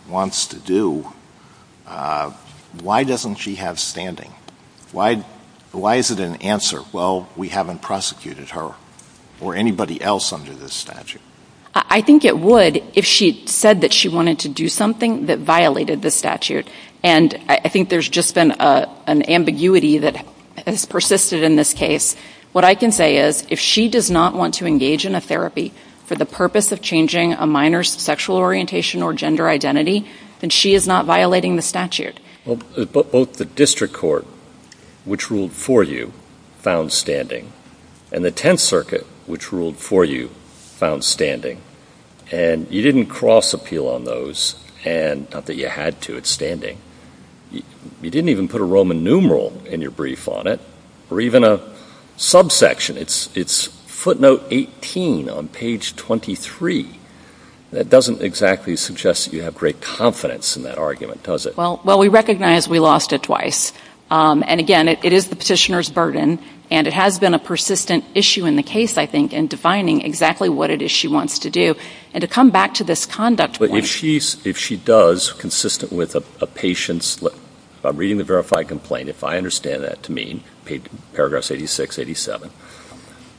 wants to do, why doesn't she have standing? Why is it an answer, well, we haven't prosecuted her or anybody else under this statute? I think it would if she said that she wanted to do something that violated the statute. And I think there's just been an ambiguity that has persisted in this case. What I can say is if she does not want to engage in a therapy for the purpose of changing a minor's sexual orientation or gender identity, then she is not violating the statute. Both the district court, which ruled for you, found standing, and the Tenth Circuit, which ruled for you, found standing. And you didn't cross-appeal on those, not that you had to, it's standing. You didn't even put a Roman numeral in your brief on it, or even a subsection. It's footnote 18 on page 23. That doesn't exactly suggest that you have great confidence in that argument, does it? Well, we recognize we lost it twice. And again, it is the petitioner's burden, and it has been a persistent issue in the case, I think, in defining exactly what it is she wants to do. And to come back to this conduct point... But if she does, consistent with a patient's, by reading the verified complaint, if I understand that to mean, paragraph 86, 87,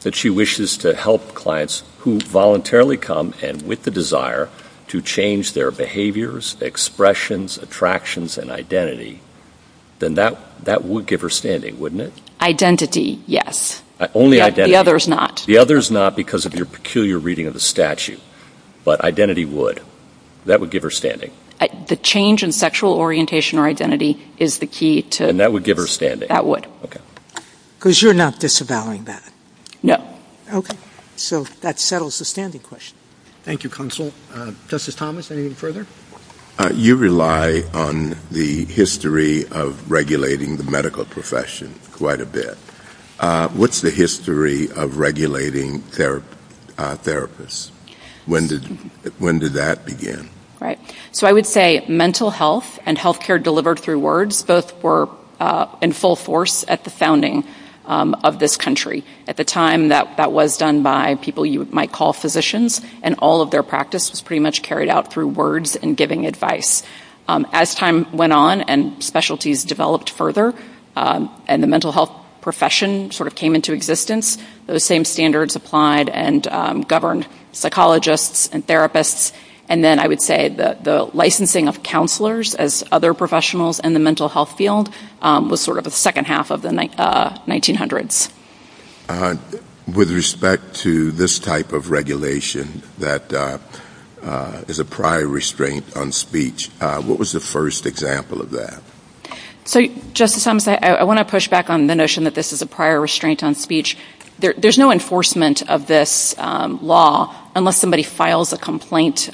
that she wishes to help clients who voluntarily come and with the desire to change their behaviors, expressions, attractions, and identity, then that would give her standing, wouldn't it? Identity, yes. Only identity. The other's not. The other's not because of your peculiar reading of the statute. But identity would. That would give her standing. The change in sexual orientation or identity is the key to... And that would give her standing. That would. Okay. Because you're not disavowing that. No. Okay. So that settles the standing question. Thank you, Counsel. Justice Thomas, anything further? You rely on the history of regulating the medical profession quite a bit. What's the history of regulating therapists? When did that begin? Right. So I would say mental health and health care were delivered through words. Those were in full force at the founding of this country. At the time, that was done by people you might call physicians. And all of their practice was pretty much carried out through words and giving advice. As time went on and specialties developed further and the mental health profession sort of came into existence, those same standards applied and governed psychologists and therapists. And then I would say the licensing of counselors as other professionals in the mental health field was sort of the second half of the 1900s. With respect to this type of regulation that is a prior restraint on speech, what was the first example of that? So, Justice Thomas, I want to push back on the notion that this is a prior restraint on speech. There's no enforcement of this law unless somebody files a complaint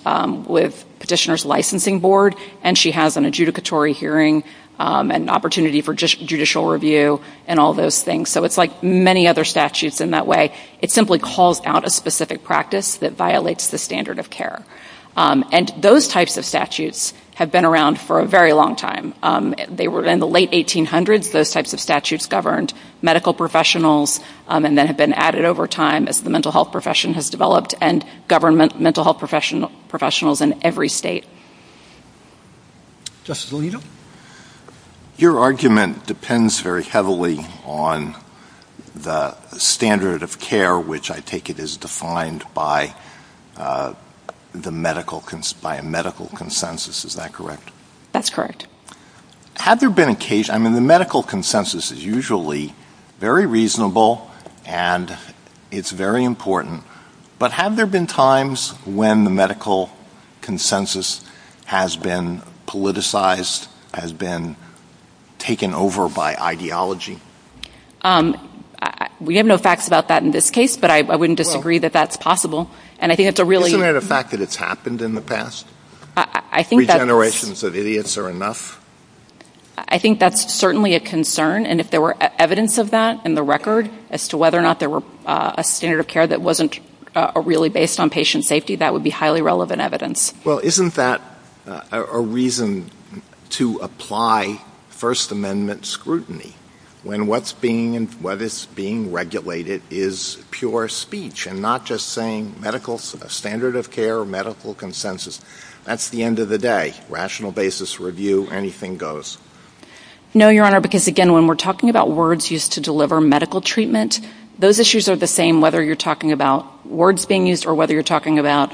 with Petitioner's Licensing Board and she has an adjudicatory hearing and opportunity for judicial review and all those things. So it's like many other statutes in that way. It simply calls out a specific practice that violates the standard of care. And those types of statutes have been around for a very long time. In the late 1800s, those types of statutes governed medical professionals and then have been added over time as the mental health profession has developed and govern mental health professionals in every state. Justice Alito, your argument depends very heavily on the standard of care, which I take it is defined by a medical consensus. Is that correct? That's correct. Had there been a case... I mean, the medical consensus is usually very reasonable and it's very important, but have there been times when the medical consensus has been politicized, has been taken over by ideology? We have no facts about that in this case, but I wouldn't disagree that that's possible. Isn't it a fact that it's happened in the past? Three generations of idiots are enough? I think that's certainly a concern, and if there were evidence of that in the record as to whether or not there were a standard of care that wasn't really based on patient safety, that would be highly relevant evidence. Well, isn't that a reason to apply First Amendment scrutiny when what is being regulated is pure speech and not just saying medical standard of care, medical consensus? That's the end of the day. Rational basis review, anything goes. No, Your Honor, because again, when we're talking about words used to deliver medical treatment, those issues are the same whether you're talking about words being used or whether you're talking about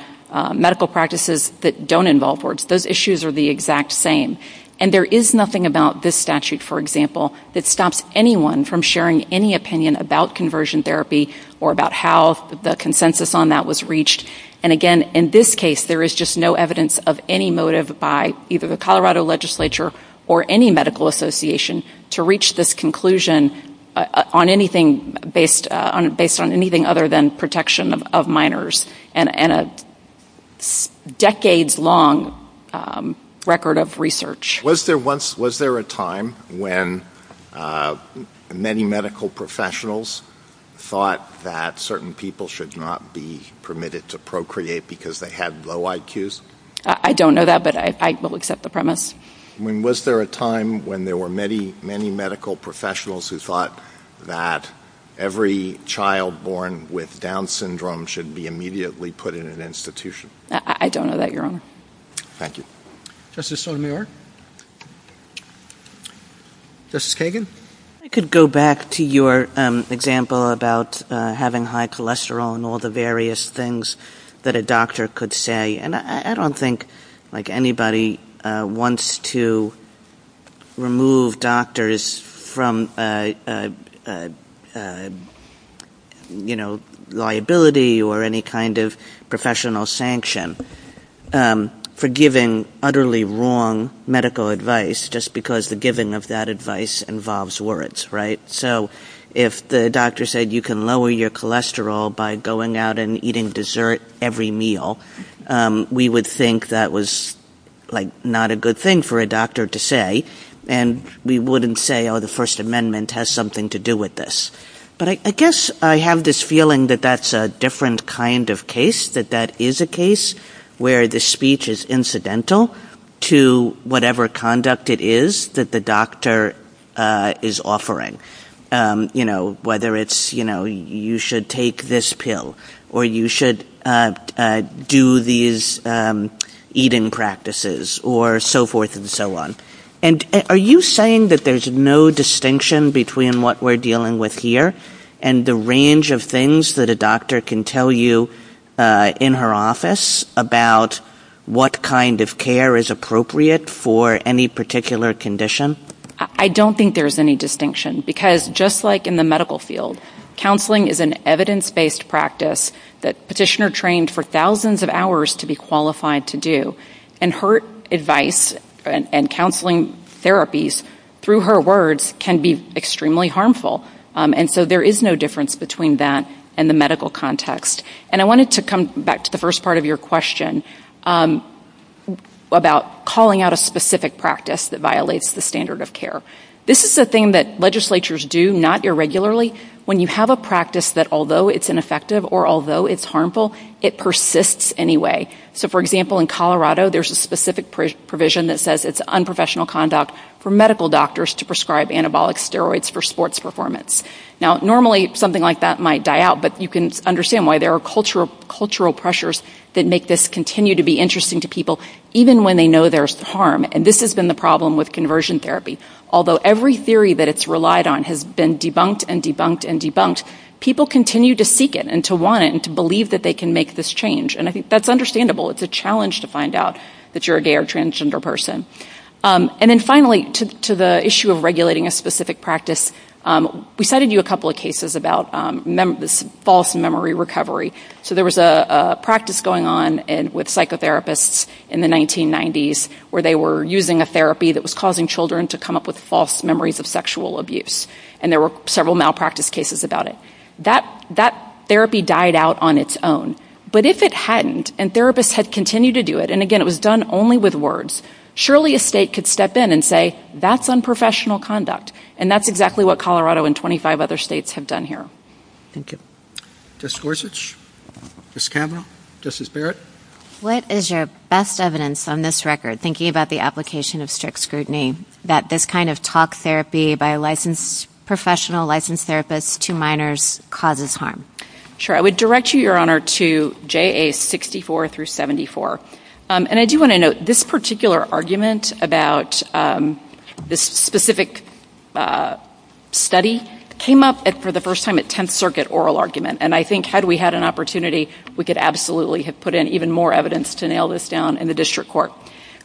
medical practices that don't involve words. Those issues are the exact same, and there is nothing about this statute, for example, that stops anyone from sharing any opinion about conversion therapy or about how the consensus on that was reached, and again, in this case, there is just no evidence of any motive by either the Colorado legislature or any medical association to reach this conclusion based on anything other than protection of minors and a decades-long record of research. Was there a time when many medical professionals thought that certain people should not be permitted to procreate because they had low IQs? I don't know that, but I will accept the premise. Was there a time when there were many medical professionals who thought that every child born with Down syndrome should be immediately put in an institution? I don't know that, Your Honor. Thank you. Justice O'Meara? Justice Kagan? I could go back to your example about having high cholesterol and all the various things that a doctor could say, and I don't think anybody wants to remove doctors from liability or any kind of professional sanction for giving utterly wrong medical advice just because the given of that advice involves words, right? So if the doctor said, you can lower your cholesterol by going out and eating dessert every meal, we would think that was not a good thing for a doctor to say, and we wouldn't say, oh, the First Amendment has something to do with this. But I guess I have this feeling that that's a different kind of case, that that is a case where the speech is incidental to whatever conduct it is that the doctor is offering, whether it's you should take this pill or you should do these eating practices or so forth and so on. And are you saying that there's no distinction between what we're dealing with here and the range of things that a doctor can tell you in her office about what kind of care is appropriate for any particular condition? I don't think there's any distinction because just like in the medical field, counseling is an evidence-based practice that petitioner trained for thousands of hours to be qualified to do, and her advice and counseling therapies through her words can be extremely harmful. And so there is no difference between that and the medical context. And I wanted to come back to the first part of your question about calling out a specific practice that violates the standard of care. This is the thing that legislatures do, not irregularly, when you have a practice that although it's ineffective or although it's harmful, it persists anyway. So for example, in Colorado, there's a specific provision that says it's unprofessional conduct for medical doctors to prescribe anabolic steroids for sports performance. Now normally something like that might die out, but you can understand why there are cultural pressures that make this continue to be interesting to people even when they know there's harm. And this has been the problem with conversion therapy. Although every theory that it's relied on has been debunked and debunked and debunked, people continue to seek it and to want it and to believe that they can make this change. And I think that's understandable. It's a challenge to find out that you're a gay or transgender person. And then finally, to the issue of regulating a specific practice, we cited you a couple of cases about this false memory recovery. So there was a practice going on with psychotherapists in the 1990s where they were using a therapy that was causing children to come up with false memories of sexual abuse. And there were several malpractice cases about it. That therapy died out on its own. But if it hadn't, and therapists had continued to do it, and again, it was done only with words, surely a state could step in and say, that's unprofessional conduct. And that's exactly what Colorado and 25 other states have done here. Thank you. Ms. Gorsuch? Ms. Cameron? Justice Barrett? What is your best evidence on this record, thinking about the application of strict scrutiny, that this kind of talk therapy by a licensed professional, licensed therapist to minors, causes harm? Sure. I would direct you, Your Honor, to JA 64 through 74. And I do want to note, this particular argument about this specific study came up for the first time And I think, had we had an opportunity, we could absolutely have put in even more evidence to nail this down in the district court.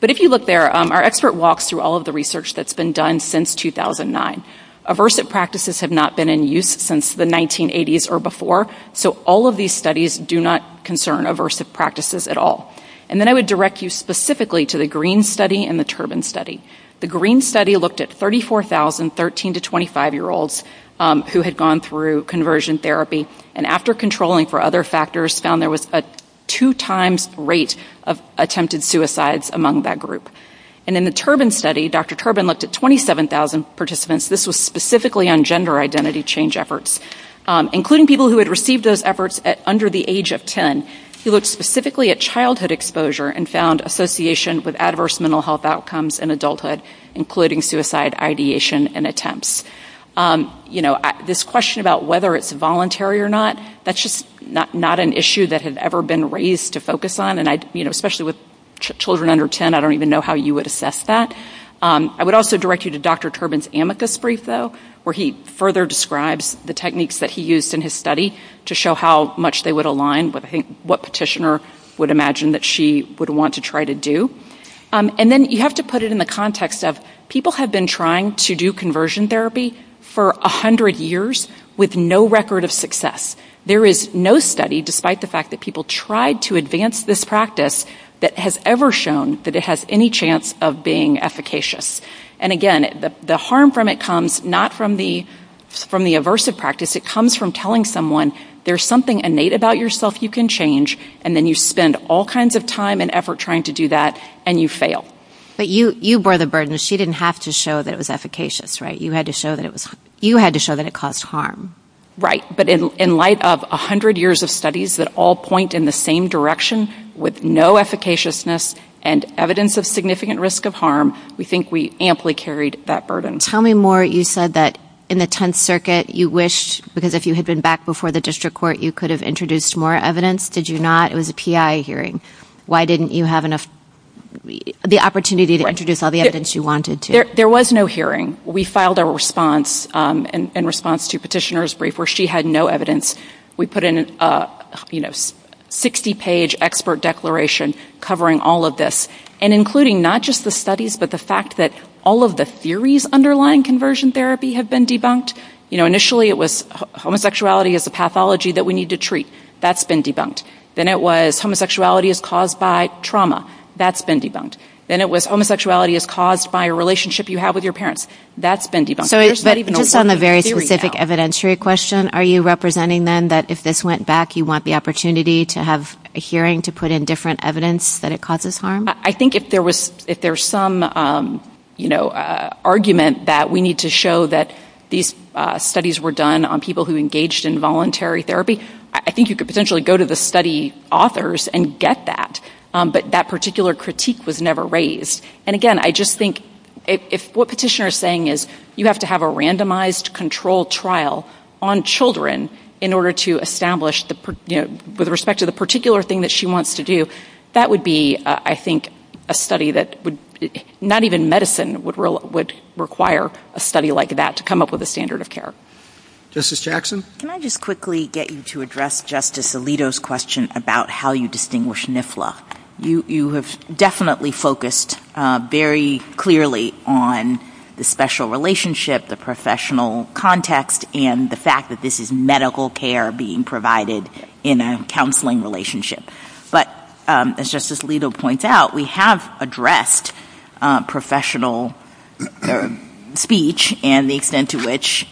But if you look there, our expert walks through all of the research that's been done since 2009. Aversive practices have not been in use since the 1980s or before. So all of these studies do not concern aversive practices at all. And then I would direct you specifically to the Green Study and the Turbin Study. The Green Study looked at 34,000 13 to 25-year-olds who had gone through conversion therapy and, after controlling for other factors, found there was a two-times rate of attempted suicides among that group. And in the Turbin Study, Dr. Turbin looked at 27,000 participants. This was specifically on gender identity change efforts, including people who had received those efforts under the age of 10. He looked specifically at childhood exposure and found association with adverse mental health outcomes in adulthood, including suicide ideation and attempts. You know, this question about whether it's voluntary or not, that's just not an issue that has ever been raised to focus on, and, you know, especially with children under 10, I don't even know how you would assess that. I would also direct you to Dr. Turbin's amethyst brief, though, where he further describes the techniques that he used in his study to show how much they would align, what petitioner would imagine that she would want to try to do. And then you have to put it in the context of people have been trying to do conversion therapy for 100 years with no record of success. There is no study, despite the fact that people tried to advance this practice, that has ever shown that it has any chance of being efficacious. And, again, the harm from it comes not from the aversive practice. It comes from telling someone, there's something innate about yourself you can change, and then you spend all kinds of time and effort trying to do that, and you fail. But you bore the burden. She didn't have to show that it was efficacious, right? You had to show that it caused harm. Right, but in light of 100 years of studies that all point in the same direction with no efficaciousness and evidence of significant risk of harm, we think we amply carried that burden. How many more you said that in the Tenth Circuit you wished, because if you had been back before the district court, you could have introduced more evidence? Did you not? It was a PI hearing. Why didn't you have the opportunity to introduce all the evidence you wanted to? There was no hearing. We filed a response in response to Petitioner's Brief where she had no evidence. We put in a 60-page expert declaration covering all of this, and including not just the studies but the fact that all of the theories underlying conversion therapy have been debunked. Initially, it was homosexuality is the pathology that we need to treat. That's been debunked. Then it was homosexuality is caused by trauma. That's been debunked. Then it was homosexuality is caused by a relationship you have with your parents. That's been debunked. It's on a very specific evidentiary question. Are you representing then that if this went back, you want the opportunity to have a hearing to put in different evidence that it causes harm? I think if there's some argument that we need to show that these studies were done on people who engaged in voluntary therapy, I think you could potentially go to the study authors and get that, but that particular critique was never raised. Again, I just think if what Petitioner is saying is you have to have a randomized controlled trial on children in order to establish, with respect to the particular thing that she wants to do, that would be, I think, a study that would, not even medicine would require a study like that to come up with a standard of care. Justice Jackson? Can I just quickly get you to address Justice Alito's question about how you distinguish NIFLA? You have definitely focused very clearly on the special relationship, the professional context, and the fact that this is medical care being provided in a counseling relationship. But as Justice Alito points out, we have addressed professional speech and the extent to which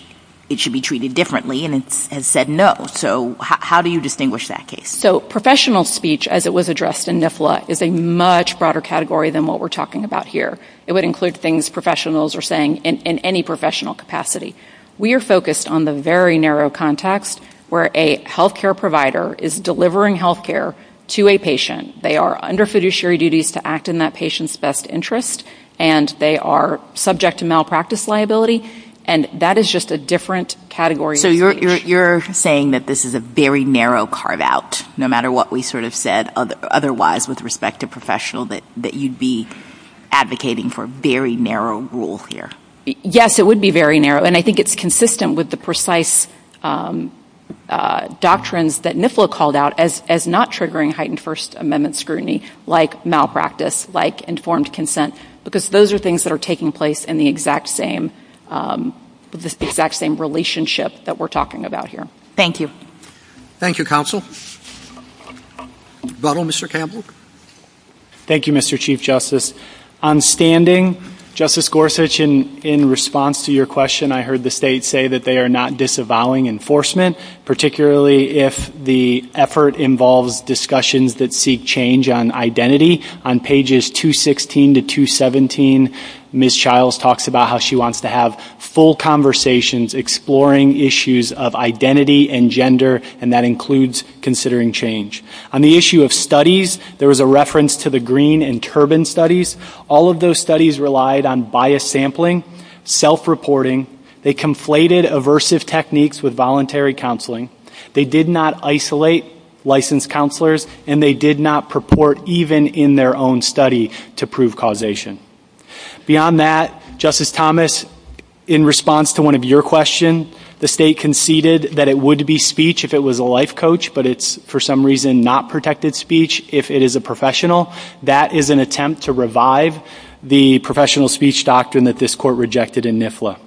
it should be treated differently and has said no. So how do you distinguish that case? So professional speech, as it was addressed in NIFLA, is a much broader category than what we're talking about here. It would include things professionals are saying in any professional capacity. We are focused on the very narrow context where a healthcare provider is delivering healthcare to a patient. They are under fiduciary duties to act in that patient's best interest and they are subject to malpractice liability, and that is just a different category. So you're saying that this is a very narrow carve-out, no matter what we sort of said otherwise with respect to professional, that you'd be advocating for a very narrow rule here? Yes, it would be very narrow, and I think it's consistent with the precise doctrines that NIFLA called out as not triggering heightened First Amendment scrutiny like malpractice, like informed consent, because those are things that are taking place in the exact same relationship that we're talking about here. Thank you. Thank you, Counsel. Mr. Campbell? Thank you, Mr. Chief Justice. On standing, Justice Gorsuch, in response to your question, I heard the state say that they are not disavowing enforcement, particularly if the effort involves discussions that seek change on identity. On pages 216 to 217, Ms. Childs talks about how she wants to have full conversations exploring issues of identity and gender, and that includes considering change. On the issue of studies, there was a reference to the Green and Turbin studies. All of those studies relied on biased sampling, self-reporting. They conflated aversive techniques with voluntary counseling. They did not isolate licensed counselors and they did not purport even in their own study to prove causation. Beyond that, Justice Thomas, in response to one of your questions, the state conceded that it would be speech if it was a life coach, but it's for some reason not protected speech if it is a professional. That is an attempt to revive the professional speech doctrine that this court rejected in NIFLA.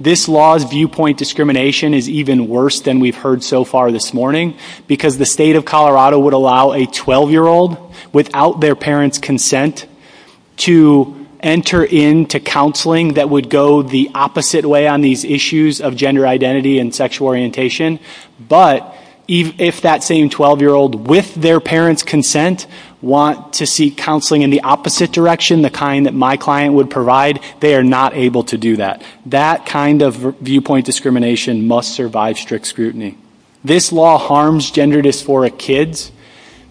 This law's viewpoint discrimination is even worse than we've heard so far this morning because the state of Colorado would allow a 12-year-old without their parents' consent to enter into counseling that would go the opposite way on these issues of gender identity and sexual orientation, but if that same 12-year-old with their parents' consent want to seek counseling in the opposite direction, the kind that my client would provide, they are not able to do that. That kind of viewpoint discrimination must survive strict scrutiny. This law harms gender dysphoric kids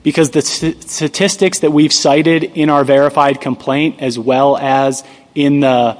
because the statistics that we've cited in our verified complaint as well as in the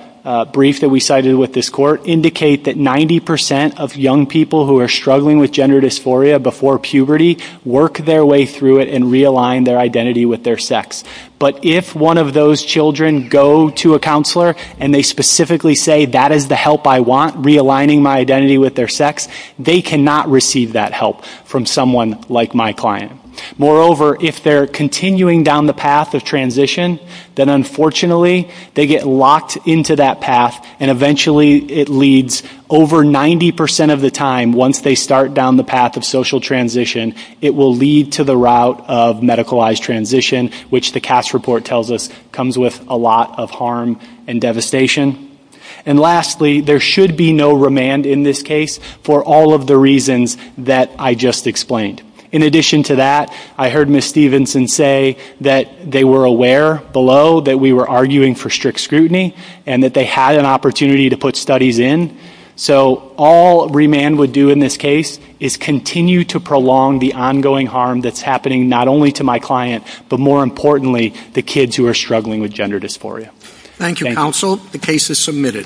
brief that we cited with this court indicate that 90% of young people who are struggling with gender dysphoria before puberty work their way through it and realign their identity with their sex, but if one of those children go to a counselor and they specifically say, that is the help I want, realigning my identity with their sex, they cannot receive that help from someone like my client. Moreover, if they're continuing down the path of transition, then unfortunately they get locked into that path and eventually it leads over 90% of the time, once they start down the path of social transition, it will lead to the route of medicalized transition, which the catch report tells us comes with a lot of harm and devastation. And lastly, there should be no remand in this case for all of the reasons that I just explained. In addition to that, I heard Ms. Stephenson say that they were aware below that we were arguing for strict scrutiny and that they had an opportunity to put studies in. So all remand would do in this case is continue to prolong the ongoing harm that's happening not only to my client, but more importantly, the kids who are struggling with gender dysphoria. Thank you, counsel. The case is submitted.